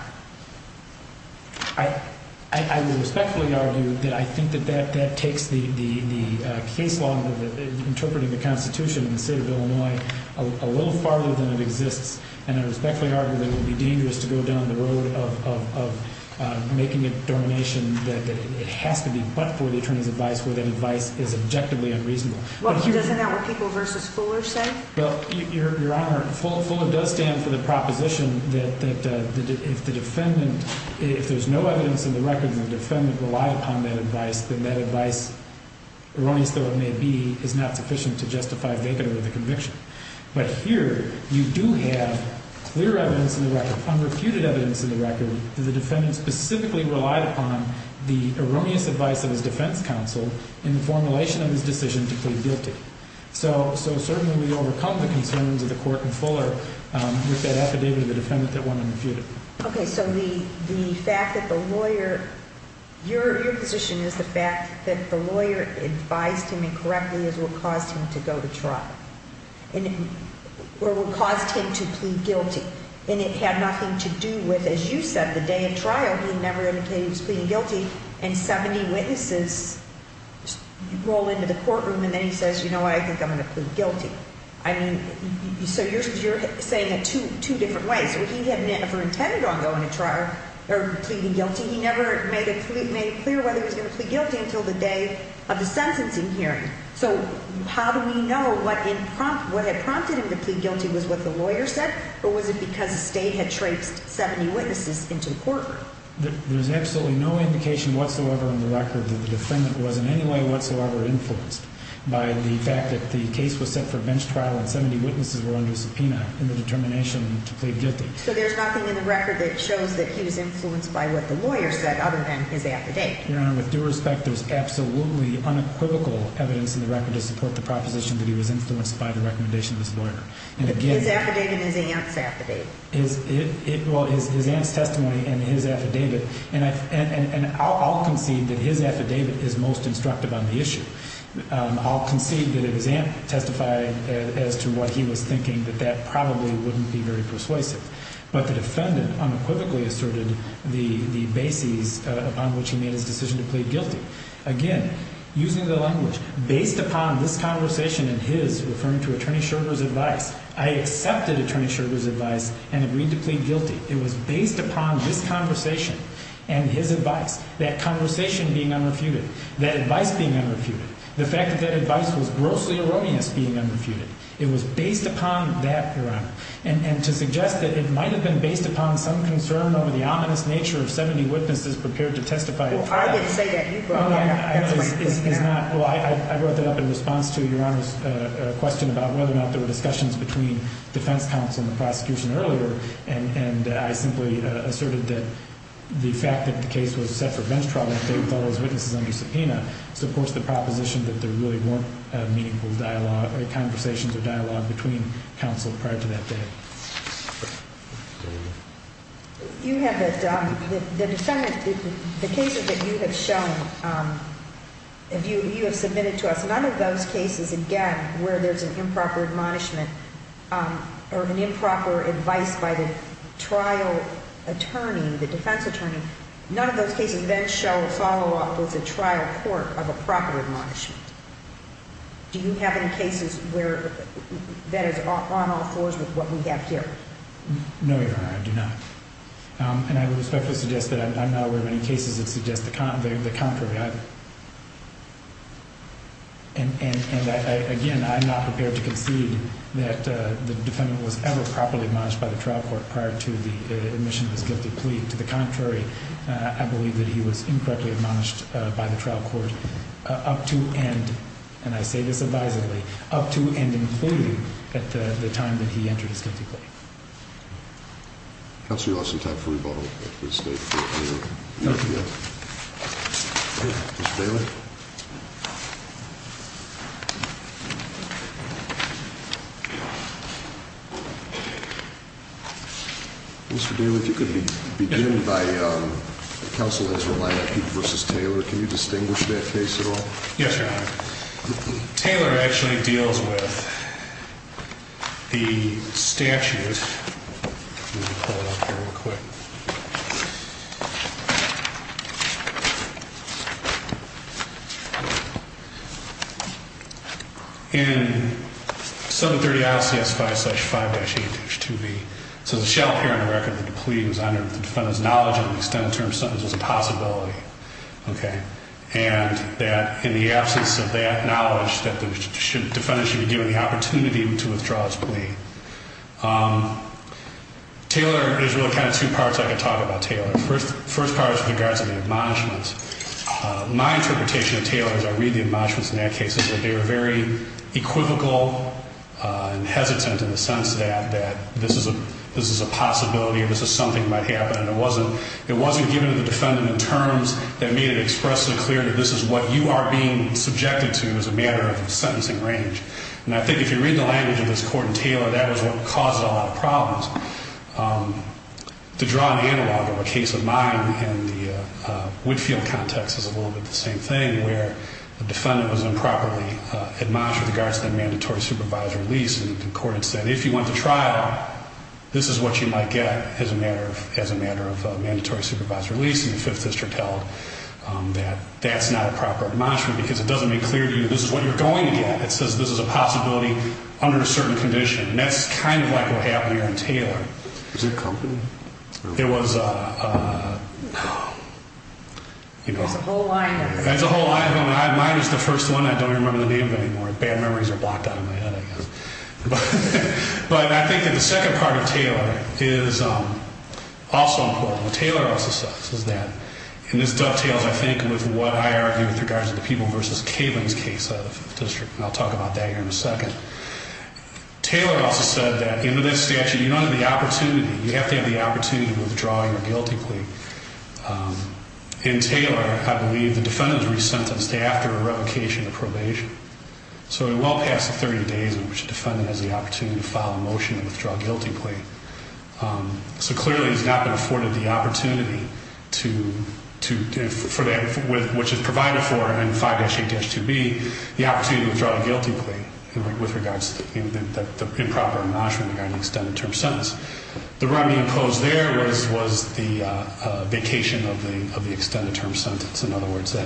I would respectfully argue that I think that that takes the case law that is interpreting the Constitution in the state of Illinois a little farther than it exists, and I respectfully argue that it would be dangerous to go down the road of making a donation that it has to be but for the attorney's advice, where the advice is objectively unreasonable. Well, doesn't that what Peoples v. Fuller says? Your Honor, Fuller does stand for the proposition that the defendant, if there's no evidence in the record that the defendant relied upon that advice, then that advice, erroneous though it may be, is not sufficient to justify making the conviction. But here, you do have clear evidence in the record, unrefuted evidence in the record, that the defendant specifically relied upon the erroneous advice of his defense counsel in the formulation of his decision to plead guilty. So certainly we don't recognize in terms of the court in Fuller just that affidavit of the defendant that wasn't refuted. Okay, so the fact that the lawyer, your position is that the lawyer advised him correctly as what caused him to go to trial, or what caused him to plead guilty, and it had nothing to do with, as you said, the day of trial, and 70 witnesses roll into the courtroom and then he says, you know what, I think I'm going to plead guilty. So you're saying it two different ways. If he had never intended on going to trial or pleading guilty, he never made it clear whether he was going to plead guilty until the day of the sentencing hearing. So how do we know what had prompted him to plead guilty was what the lawyer said, or was it because they had traced 70 witnesses into the courtroom? There's absolutely no indication whatsoever on the record that the defendant was in any way whatsoever influenced by the fact that the case was set for bench trial and 70 witnesses were on the subpoena in the determination to plead guilty. So there's nothing in the record that shows that he was influenced by what the lawyer said other than his affidavit. Your Honor, with due respect, there's absolutely uncritical evidence in the record to support the proposition that he was influenced by the recommendation of his lawyer. His affidavit and his advance testimony. Well, his advance testimony and his affidavit, and I'll concede that his affidavit is most instructive on the issue. I'll concede that his advance testified as to what he was thinking, but that probably wouldn't be very persuasive. But the defendant unquickly asserted the basis upon which he made his decision to plead guilty. Again, using the language, based upon his conversation and his, referring to Attorney Schroeder's advice, I accepted Attorney Schroeder's advice and agreed to plead guilty. It was based upon his conversation and his advice. That conversation being unrefuted. That advice being unrefuted. The fact that that advice was grossly erroneous being unrefuted. It was based upon that, Your Honor. And to suggest that it might have been based upon some concern over the ominous nature of 70 witnesses prepared to testify at trial. I wrote that up in response to Your Honor's question about whether or not there were discussions between defense counsel and the prosecution earlier, and I simply asserted that the fact that the case was self-defense trial was based on what was written for any subpoena. So, of course, the proposition that there really weren't meaningful dialogue or conversations of dialogue between counsel prior to that day. You have, the cases that you have shown, you have submitted to us, none of those cases, again, where there's an improper admonishment or an improper advice by the trial attorney, the defense attorney, none of those cases then show a follow-up with the trial court of a proper admonishment. Do you have any cases where that is almost close to what we have here? No, Your Honor, I do not. And I would respectfully suggest that I'm not aware of any cases that suggest the contrary. And, again, I'm not prepared to concede that the defendant was ever properly admonished by the trial court prior to the admission of the guilty plea. To the contrary, I believe that he was improperly admonished by the trial court up to and, and I say this advisedly, up to and including at the time that he entered the court. Counselor, you also have three votes. Mr. Daly, if you could begin by, counsel has relied on you versus Taylor. Can you distinguish that face at all? Yes, Your Honor. Taylor actually deals with the statute. Let me pull up here real quick. In 730 ICS 5-5-8-2B, so the shell hearing record that the plea is under defends knowledge of an extended term sentence as a possibility. Okay. And that in the absence of that knowledge, the defendant should be given the opportunity to withdraw his plea. Taylor, there's really kind of two parts I can talk about Taylor. The first part is in regards to the admonishments. My interpretation of Taylor as I read the admonishments in that case is that they were very equivocal and hesitant in the sense that this is a possibility and this is something that might happen. It wasn't given to the defendant in terms that made it expressly clear that this is what you are being subjected to as a matter of the sentencing range. And I think if you read the language of this court in Taylor, that is what caused a lot of problems. To draw an analog of a case of mine in the Woodfield context is a little bit the same thing where the defendant was improperly admonished in regards to the mandatory supervisor's lease in accordance that if you went to trial, this is what you might get as a matter of mandatory supervisor's lease. And the Fifth District held that that's not a proper admonishment because it doesn't make clear to you this is what you're going to get. It says this is a possibility under a certain condition. And that's kind of like what happened here in Taylor. Is it a company? It was a... There's a whole lot going on. Mine was the first one. I don't remember the name of it anymore. Bad memories are blocked out of my head. But I think that the second part of Taylor is also important. Taylor also says that, and this does feel, I think, with what I argue with regards to the Peoples v. Cailin case of the District, and I'll talk about that here in a second. Taylor also said that in this statute, you don't have the opportunity. You have to have the opportunity to withdraw your guilty plea. In Taylor, I believe the defendant was re-sentenced after a revocation of probation. So in well past 30 days in which the defendant has the opportunity to file a motion to withdraw a guilty plea. So clearly, he's not been afforded the opportunity to, for that, which is provided for in 5HH2B, the opportunity to withdraw a guilty plea with regards to improper admonishment regarding the extended term sentence. The remedy imposed there was a vacation of the extended term sentence. In other words, it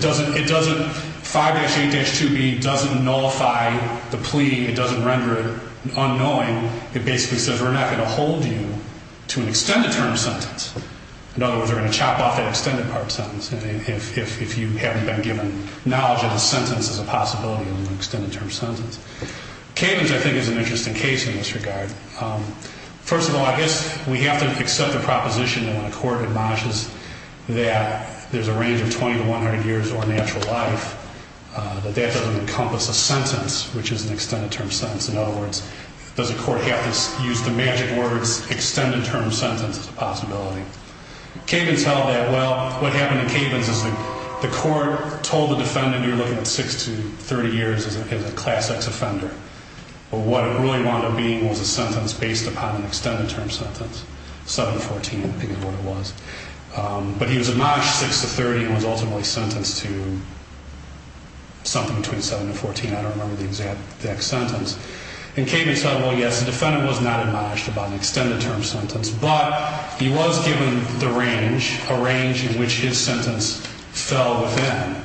doesn't, 5HH2B doesn't nullify the plea. It doesn't render it unknowing. It basically says we're not going to hold you to an extended term sentence. In other words, we're going to chop off an extended term sentence. If you haven't been given knowledge of the sentence, there's a possibility of an extended term sentence. Caitlin's, I think, is an interesting case in this regard. First of all, if we happen to accept a proposition and the court acknowledges that there's a range of 20 to 100 years or an actual life, but that doesn't encompass a sentence, which is an extended term sentence. In other words, does the court have to use the magic word extended term sentence as a possibility? Caitlin's held that, well, what happened to Caitlin's is the court told the defendant you're looking at 6 to 30 years as a class X offender. But what it really wound up being was a sentence based upon an extended term sentence, 7 to 14, I think is what it was. But he was admonished 6 to 30 and was ultimately sentenced to something between 7 and 14. I don't remember the exact sentence. And Caitlin said, well, yes, the defendant was not admonished about an extended term sentence, but he was given the range, a range in which his sentence fell within.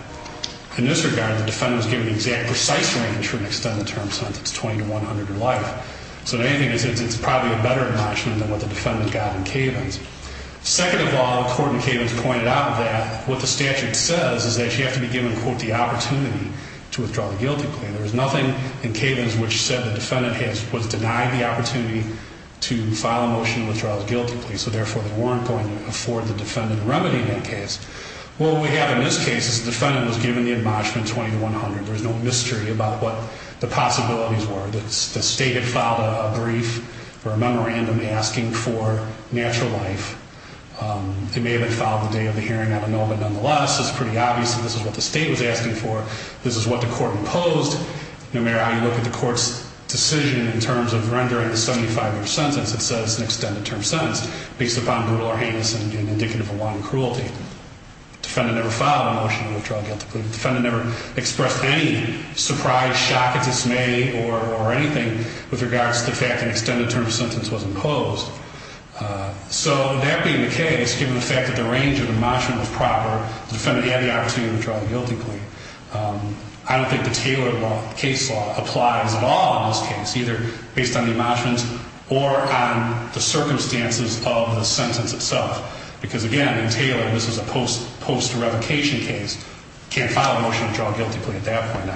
In this regard, the defendant was given the exact precise range for an extended term sentence, 20 to 100 years of life. So they think it's probably a better admonishment than what the defendant got in Caitlin's. Second of all, the court in Caitlin's pointed out that what the statute says is that you have to be given, quote, the opportunity to withdraw guiltily. There's nothing in Caitlin's which said the defendant has, quote, denied the opportunity to file a motion to withdraw guiltily, so therefore they weren't going to afford the defendant a remedy in that case. Well, what we have in this case is the defendant was given the admonishment 20 to 100. There's no mystery about what the possibilities were. The state had filed a brief or a memorandum asking for natural life. It may have been filed the day of the hearing. I don't know, but nonetheless, it's pretty obvious that this is what the state was asking for. This is what the court imposed. No matter how you look at the court's decision in terms of rendering a 75-year sentence, it says an extended term sentence based upon rule or handling indicative of a wrong or cruelty. The defendant never filed a motion to withdraw guiltily. The defendant never expressed any surprise, shock, dismay, or anything with regards to the fact that an extended term sentence wasn't closed. So that being the case, given the fact that the range of admonishment was proper, the defendant had the opportunity to withdraw guiltily. I don't think the Taylor case law applies at all in this case, either based on the admonishments or on the circumstances of the sentence itself, because, again, in Taylor, this is a post-revocation case. You can't file a motion to withdraw guiltily at that point in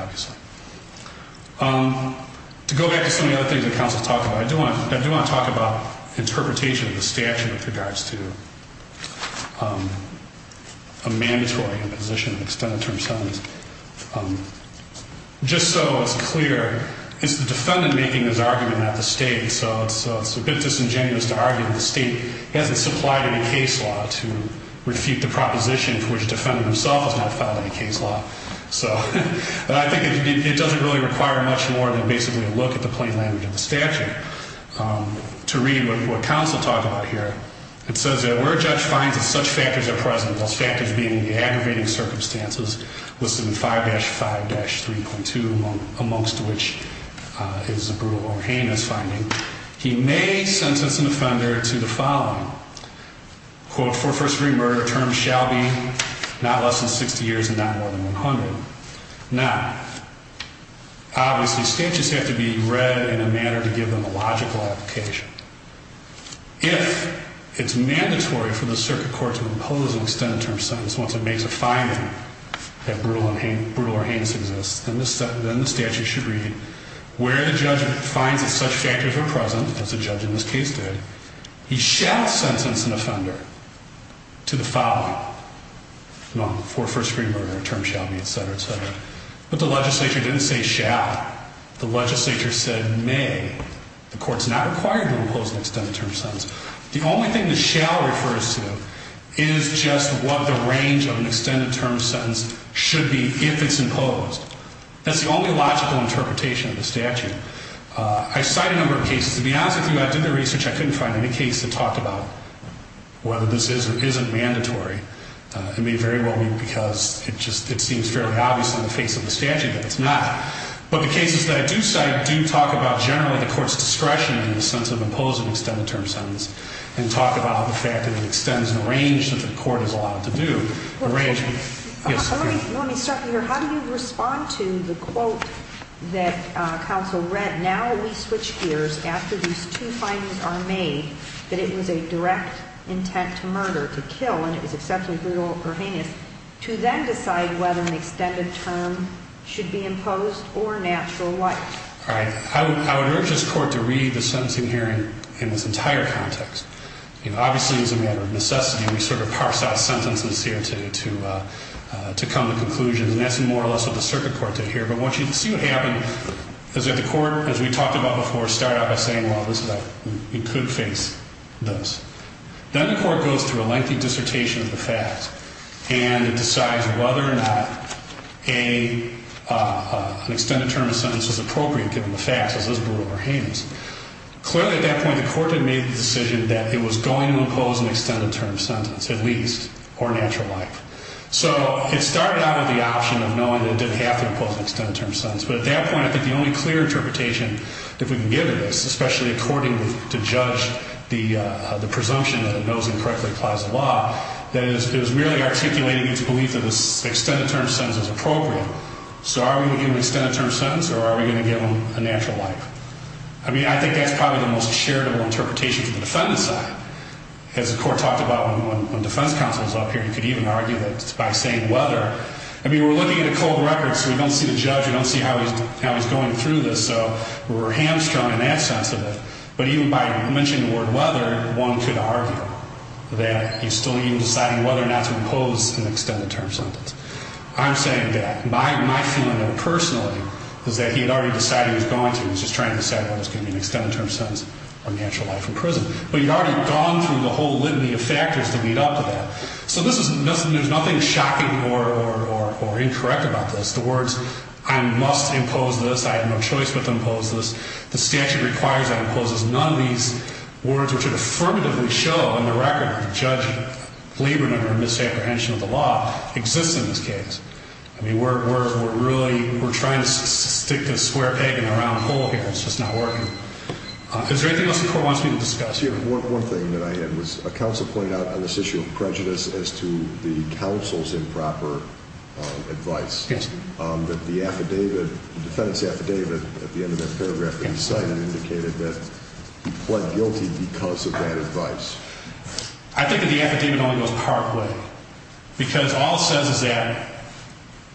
time. To go back to some of the other things that counsel talked about, I do want to talk about interpretation of the statute with regards to a mandatory imposition of extended term sentence. Just so it's clear, the defendant making this argument at the state, so it's a bit disingenuous to argue that the state hasn't supplied any case law to refute the propositions which the defendant himself might file in a case law. But I think it doesn't really require much more than basically a look at the plain language of the statute. To read what counsel talked about here, it says that where a judge finds that such factors are present, those factors being the aggravating circumstances listed in 5-5-3.2, amongst which is the brutal or heinous finding, he may sentence an offender to the following. Quote, for first-degree murder, term shall be not less than 60 years and not more than 100. Now, obviously, statutes have to be read in a manner to give them a logical application. If it's mandatory for the circuit court to impose an extended term sentence once it makes a finding that brutal or heinous exists, then the statute should read, where the judge finds that such factors are present, as the judge in this case did, he shall sentence an offender to the following. Well, for first-degree murder, term shall be, et cetera, et cetera. But the legislature didn't say shall. The legislature said may. The court's not required to impose an extended term sentence. The only thing that shall refers to is just what the range of an extended term sentence should be if it's imposed. That's the only logical interpretation of the statute. I cite a number of cases. To be honest with you, I did the research. I couldn't find any case to talk about whether this is or isn't mandatory. It would be very wrong of me because it seems fairly obvious on the face of the statute that it's not. But the cases that I do cite do talk about generally the court's discretion in the sense of imposing an extended term sentence and talk about the fact that it extends the range that the court is allowed to do. Let me stop you here. How do you respond to the quote that counsel read, that now we switch gears after these two findings are made, that it was a direct intent to murder, to kill, and it was especially brutal or heinous, to then decide whether an extended term should be imposed or natural life? All right. I would urge this court to read the sentence you hear in this entire context. You know, obviously, as a matter of necessity, we sort of parse out a sentence that's here to come to conclusion, and that's more or less what the circuit court did here. But what you see happening is that the court, as we talked about before, started by saying, well, it could face those. Then the court goes through a lengthy dissertation of the facts, and it decides whether or not an extended term sentence is appropriate given the facts, as is brutal or heinous. Clearly, at that point, the court had made the decision that it was going to impose an extended term sentence, at least, or natural life. So it started out as the option of knowing that it didn't have to impose an extended term sentence. But at that point, I think the only clear interpretation that we can give of this, especially according to judge, the presumption that it knows and correctly applies the law, that it was merely articulating the belief that it was an extended term sentence as appropriate. So are we going to give them an extended term sentence, or are we going to give them a natural life? I mean, I think that's probably the most charitable interpretation to the defense of that. As the court talked about when the defense counsel was up here, you could even argue that by saying whether, I mean, we're looking at a cold record, so we don't see the judge, we don't see how he's going through this, so we're hamstrung in that sense of it. But even by mentioning the word whether, one could argue that he's still even deciding whether or not to impose an extended term sentence. I'm saying that. My opinion, personally, is that he had already decided he was going to. He was just trying to decide whether it was going to be an extended term sentence or natural life in prison. But he'd already gone through the whole litany of factors that lead up to that. So there's nothing shocking or incorrect about this. The words, I must impose this, I have no choice but to impose this, the statute requires I impose this, none of these words which would affirmatively show on the record that the judgment, Lieberman or misapprehension of the law exists in this case. I mean, we're trying to stick this square peg in a round hole here, and it's just not working. Is there anything else the Court wants me to discuss? One more thing that I have missed. A counsel pointed out on this issue of prejudice as to the counsel's improper advice. Yes. That the affidavit, the defendant's affidavit, at the end of that paragraph, that he cited indicated that he pled guilty because of that advice. I think that the affidavit only goes part way. Because all it says is that,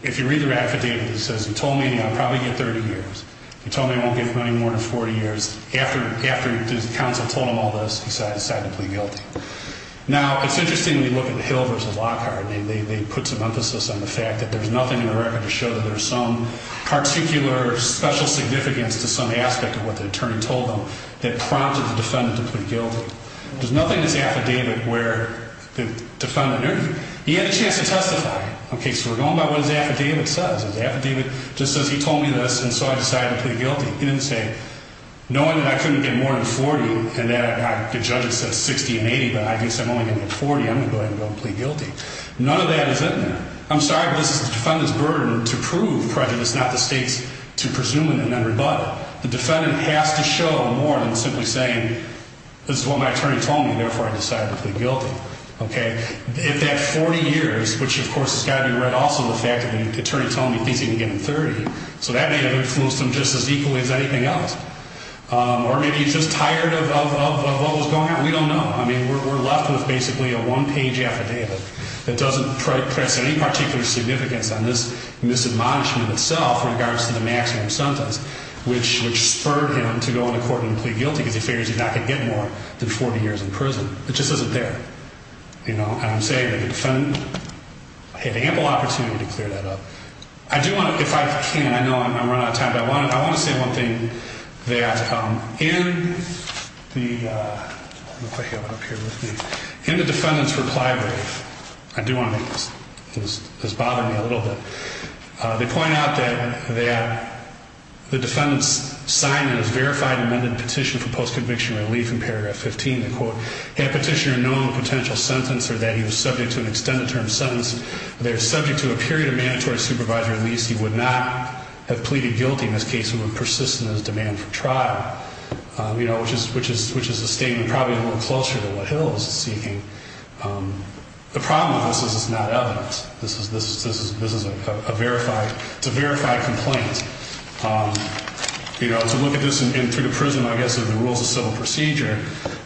if you read the affidavit, it says, He told me I'll probably get 30 years. He told me I won't get any more than 40 years. After the counsel told him all this, he decided to plead guilty. Now, it's interesting to look at the Hill v. Lockhart. They put some emphasis on the fact that there's nothing in the record to show that there's some particular special significance to some aspect of what the attorney told them that prompted the defendant to plead guilty. There's nothing in the affidavit where the defendant, he had a chance to testify. Okay, so we're going by what the affidavit says. The affidavit just says, He told me this, and so I decided to plead guilty. He didn't say, Knowing that I couldn't get more than 40, and that the judge said 60 and 80, but I guess I'm only going to get 40, I'm going to go ahead and go ahead and plead guilty. None of that is in there. I'm sorry, but the defendant's burden to prove the prejudice is not the state to presume in the matter, but the defendant has to show more than simply saying, This is what my attorney told me, and therefore I decided to plead guilty. Okay. If that 40 years, which, of course, has got to be read also in the affidavit, the attorney's only thinking of getting 30, so that may have influenced him just as equally as anything else. Or maybe he's just tired of what was going on. We don't know. I mean, we're left with basically a one-page affidavit that doesn't present any particular significance on this admonishment itself in regards to the masking of the sentence, which spurred him to go on the court and plead guilty in the affidavit because he's not going to get more than 40 years in prison. It just doesn't fit. You know, I would say that the defendant had ample opportunity to clear that up. I do want to, if I can, I know I'm going to run out of time, but I want to say one thing, that in the defendant's reply brief, I do want to make this bother me a little bit, they point out that the defendant's assignment is verified in London Petition for Post-Conviction Relief in Paragraph 15. They quote, Had Petitioner known the potential sentence, or that he was subject to an extended term sentence, or that he was subject to a period of mandatory supervisory release, he would not have pleaded guilty in this case. He would have persisted in his demand for trial, which is the statement probably a little closer to what Hill is seeking. The problem, of course, is it's not evidence. This is a verified complaint. You know, to look at this through the prism, I guess, of the rules of civil procedure,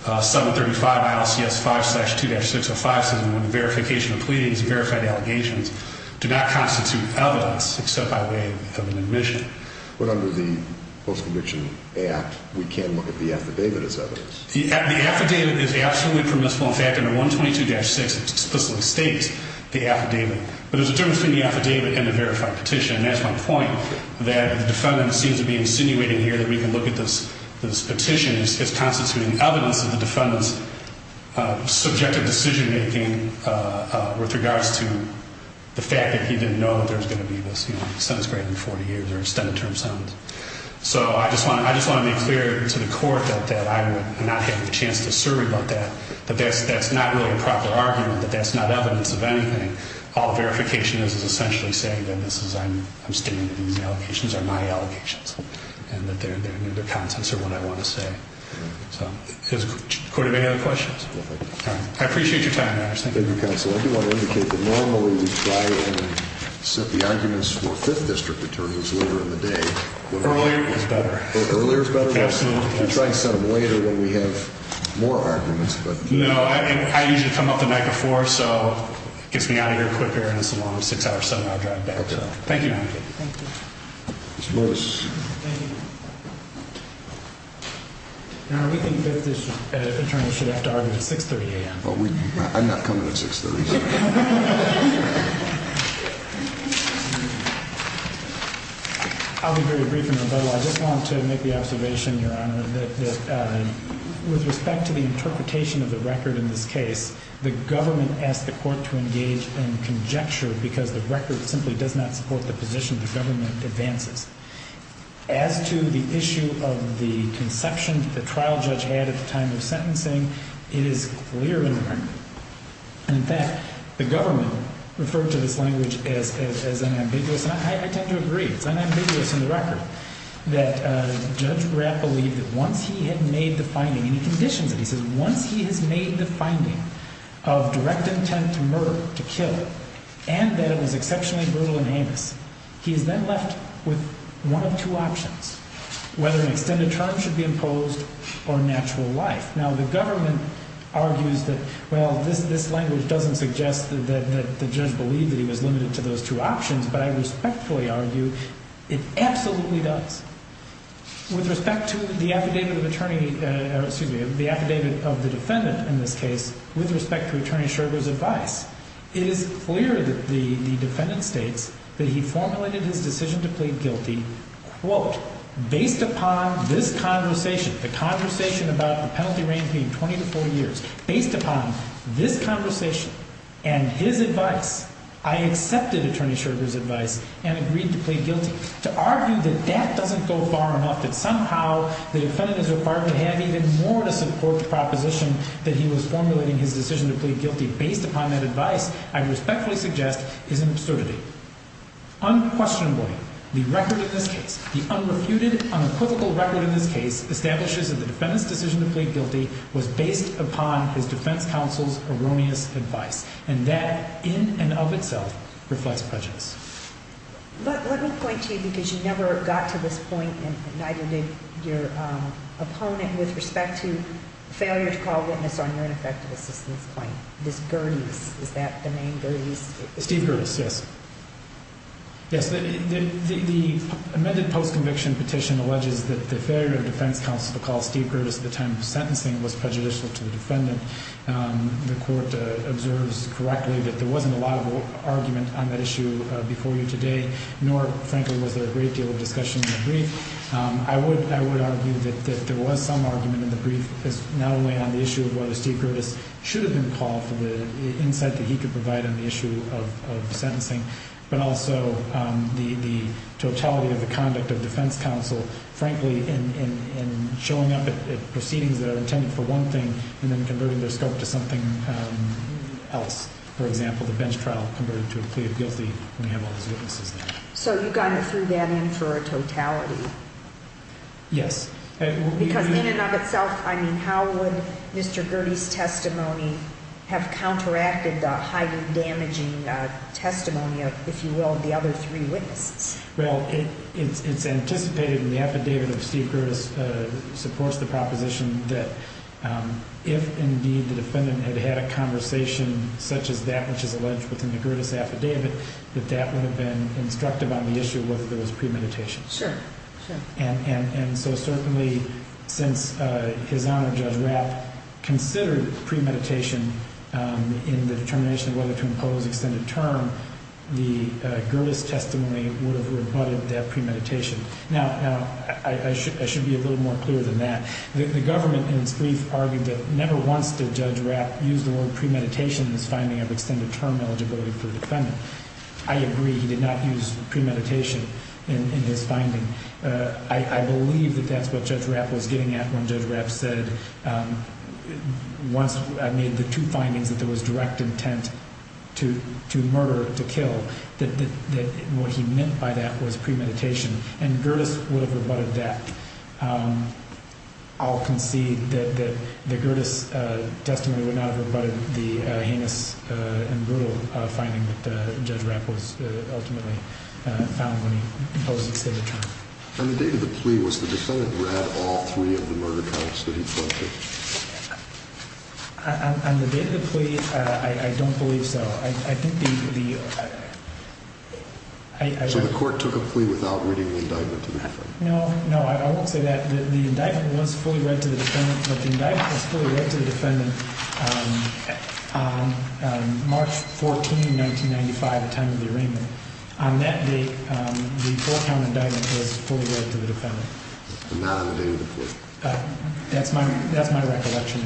735 ILCS 5-2-6057, the verification of pleadings, the verification of allegations, do not constitute evidence except by way of an admission. But under the Post-Conviction Act, we can't look at the affidavit as evidence. The affidavit is absolutely permissible. In fact, under 122-6, it's supposed to state the affidavit. But there's a difference between the affidavit and the verified petition, and that's my point, that the defendant seems to be insinuating here that we can look at this petition as constituting evidence of the defendant's subjective decision-making with regards to the fact that he didn't know that there was going to be a sentence greater than 40 years or extended term sentence. So I just want to make clear to the Court that I would not have the chance to survey about that, but that's not really a proper argument, but that's not evidence of anything. All verification is essentially saying that I'm standing in the allegations, they're my allegations, and that they're the contents of what I want to say. Does the Court have any other questions? I appreciate your time. Thank you, Counsel. I do want to indicate that normally we try to set the arguments for Fifth District attorneys later in the day. Earlier is better. Earlier is better? Absolutely. I'm trying to set them later when we have more arguments. No, I usually come up the night before, so it gets me out of here quicker, and as long as the time is set, I'll drive back. Thank you. Thank you. Mr. Lewis. Thank you. Now, we can take this as an attorney to that argument at 6.30 a.m. I'm not coming at 6.30. I'll be very brief, Your Honor. I just want to make the observation, Your Honor, that with respect to the interpretation of the record in this case, the government asked the Court to engage in conjecture because the record simply does not support the position the government advances. As to the issue of the conception that the trial judge had at the time of sentencing, it is clearly not. In fact, the government referred to this language as unambiguous, and I tend to agree. It's unambiguous in the record that Judge Grant believes that once he had made the finding, and he conditioned it, because once he had made the finding of direct intent to murder, to kill, and that it was exceptionally brutal and heinous, he is then left with one of two options, whether an extended charge should be imposed or natural life. Now, the government argues that, well, this language doesn't suggest that the judge believed that he was limited to those two options, but I respectfully argue it absolutely does. With respect to the affidavit of the defendant in this case, with respect to Attorney Scherger's advice, it is clear that the defendant states that he formulated his decision to plead guilty, quote, based upon this conversation, the conversation about the penalty range being 24 years, based upon this conversation and his advice, I accepted Attorney Scherger's advice and agreed to plead guilty. To argue that that doesn't go far enough, that somehow the defendant is required to have even more to support the proposition that he was formulating his decision to plead guilty, based upon that advice, I respectfully suggest is an absurdity. Unquestionably, the unreputed, uncritical record in this case establishes that the defendant's decision to plead guilty was based upon the defense counsel's erroneous advice, and that, in and of itself, reflects prejudice. Let me point to you, because you never got to this point and neither did your opponent, with respect to failure to call witness on reinvestigation. Ms. Gurdes, is that the name? Steve Gurdes, yes. The amended post-conviction petition alleges that the failure of defense counsel to call Steve Gurdes at the time of the sentencing was prejudicial to the defendant. The court observes correctly that there wasn't a lot of argument on that issue before you today, nor, frankly, was there a ridiculous discussion in the brief. I would argue that there was some argument in the brief, not only on the issue of why Steve Gurdes should have been called, the insight that he could provide on the issue of the sentencing, but also the totality of the conduct of defense counsel, frankly, in showing up at proceedings that are intended for one thing and then converting the result to something else. For example, the bench trial converted to a plea of guilty. So you've gone through that in its totality? Yes. Because in and of itself, I mean, how would Mr. Gurdes' testimony have counteracted the highly damaging testimony, if you will, of the other three witnesses? Well, it's anticipated in the affidavit of Steve Gurdes that supports the proposition that if, indeed, the defendant had had a conversation such as that which is alleged within the Gurdes affidavit, that that would have been inflected on the issue whether there was premeditation. Sure. And so certainly since his honor, Judge Rapp, considered premeditation in the determination of whether to impose an extended term, the Gurdes testimony would have rebutted that premeditation. Now, I should be a little more clear than that. The government, in its brief, argued that never once did Judge Rapp use the word premeditation in his finding of extended term eligibility for the defendant. I agree he did not use premeditation in his finding. I believe that that's what Judge Rapp was getting at when Judge Rapp said, once I made the two findings that there was direct intent to murder, to kill, that what he meant by that was premeditation. And Gurdes would have rebutted that. I'll concede that the Gurdes testimony would not have rebutted the heinous and brutal finding that Judge Rapp ultimately found when he imposed the extended term. On the day of the plea, was the defendant at all free of the murder counts that he felt he was? On the day of the plea, I don't believe so. I think the court took a plea without reviewing the indictment. No, I won't say that. The indictment was fully read to the defendant on March 14, 1995 at the time of the arraignment. On that day, the court found the indictment was fully read to the defendant. I don't believe so. That's my recollection.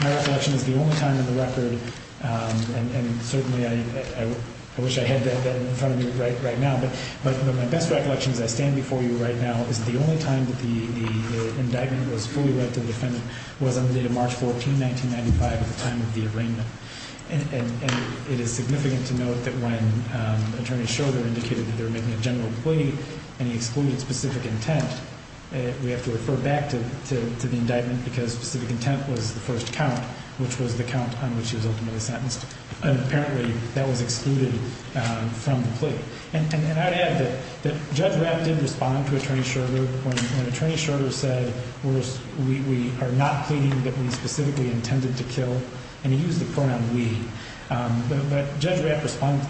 My recollection is the only time in the record, and certainly I wish I had that in front of me right now, but my best recollection is that I stand before you right now and the only time that the indictment was fully read to the defendant was on the day of March 14, 1995 at the time of the arraignment. And it is significant to note that when Attorney Schroeder indicated that there had been a general plea and he excluded specific intent, we have to refer back to the indictment because specific intent was the first count, which was the count on which his ultimate offense. And apparently that was excluded from the plea. And I have to add that Judge Rapp didn't respond to Attorney Schroeder when Attorney Schroeder said we are not pleading that we specifically intended to kill, and he used the pronoun we. But Judge Rapp responded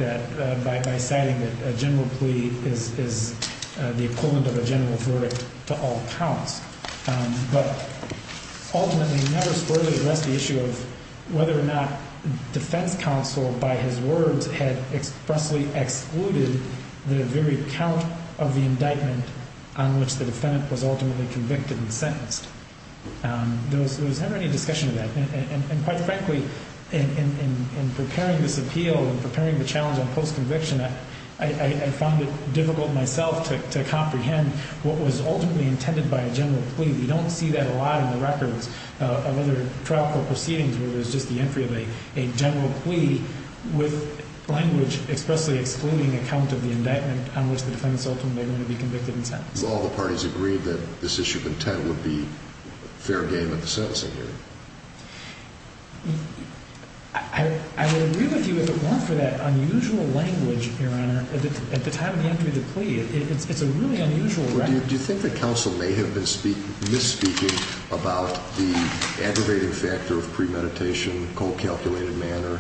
by stating that a general plea is the equivalent of a general verdict to all counts. But ultimately Judge Schroeder left the issue of whether or not defense counsel, by his words, had expressly excluded the very count of the indictment on which the defendant was ultimately convicted and sentenced. There was never any discussion of that. And quite frankly, in preparing this appeal, in preparing the challenge on post-conviction, I found it difficult myself to comprehend what was ultimately intended by a general plea. We don't see that a lot in the records of other trial proceedings where there's just the entry of a general plea with language expressly excluding a count of the indictment on which the defense ultimately would be convicted and sentenced. Do all the parties agree that this issue of intent would be fair game in the sentencing game? I agree with you about the unusual language here. I mean, at the time of the intended plea, it's a really unusual language. Do you think that counsel may have been misspeaking about the aggravated factor of premeditation in a cold-calculated manner?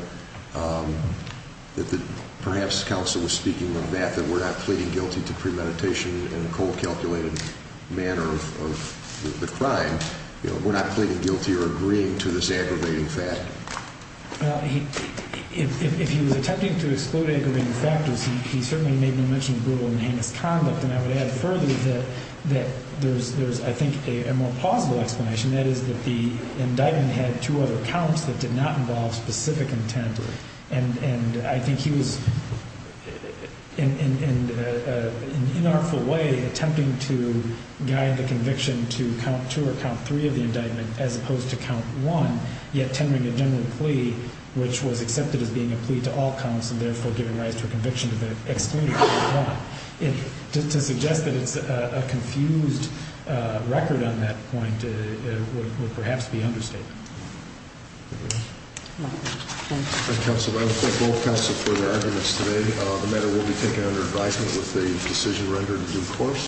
Perhaps counsel was speaking on that, that we're not pleading guilty to premeditation in a cold-calculated manner of the crime. You know, we're not pleading guilty or agreeing to this aggravated factor. Well, if he was attempting to exclude aggravated factors, he certainly made no mention of brutal and heinous crimes. And I would add further that there's, I think, a more plausible explanation. That is that the indictment had two other counts that did not involve specific intent. And I think he was, in an unlawful way, attempting to guide the conviction to count two or count three of the indictment as opposed to count one, yet tendering a general plea, which was accepted as being a plea to all counsel, therefore gave a right for conviction to exclude count one. To suggest that it's a confused record on that point would perhaps be understated. Thank you. Thank you, counsel. I think we'll pass it for the evidence today, no matter what we think of the indictment with the decision rendered in due course.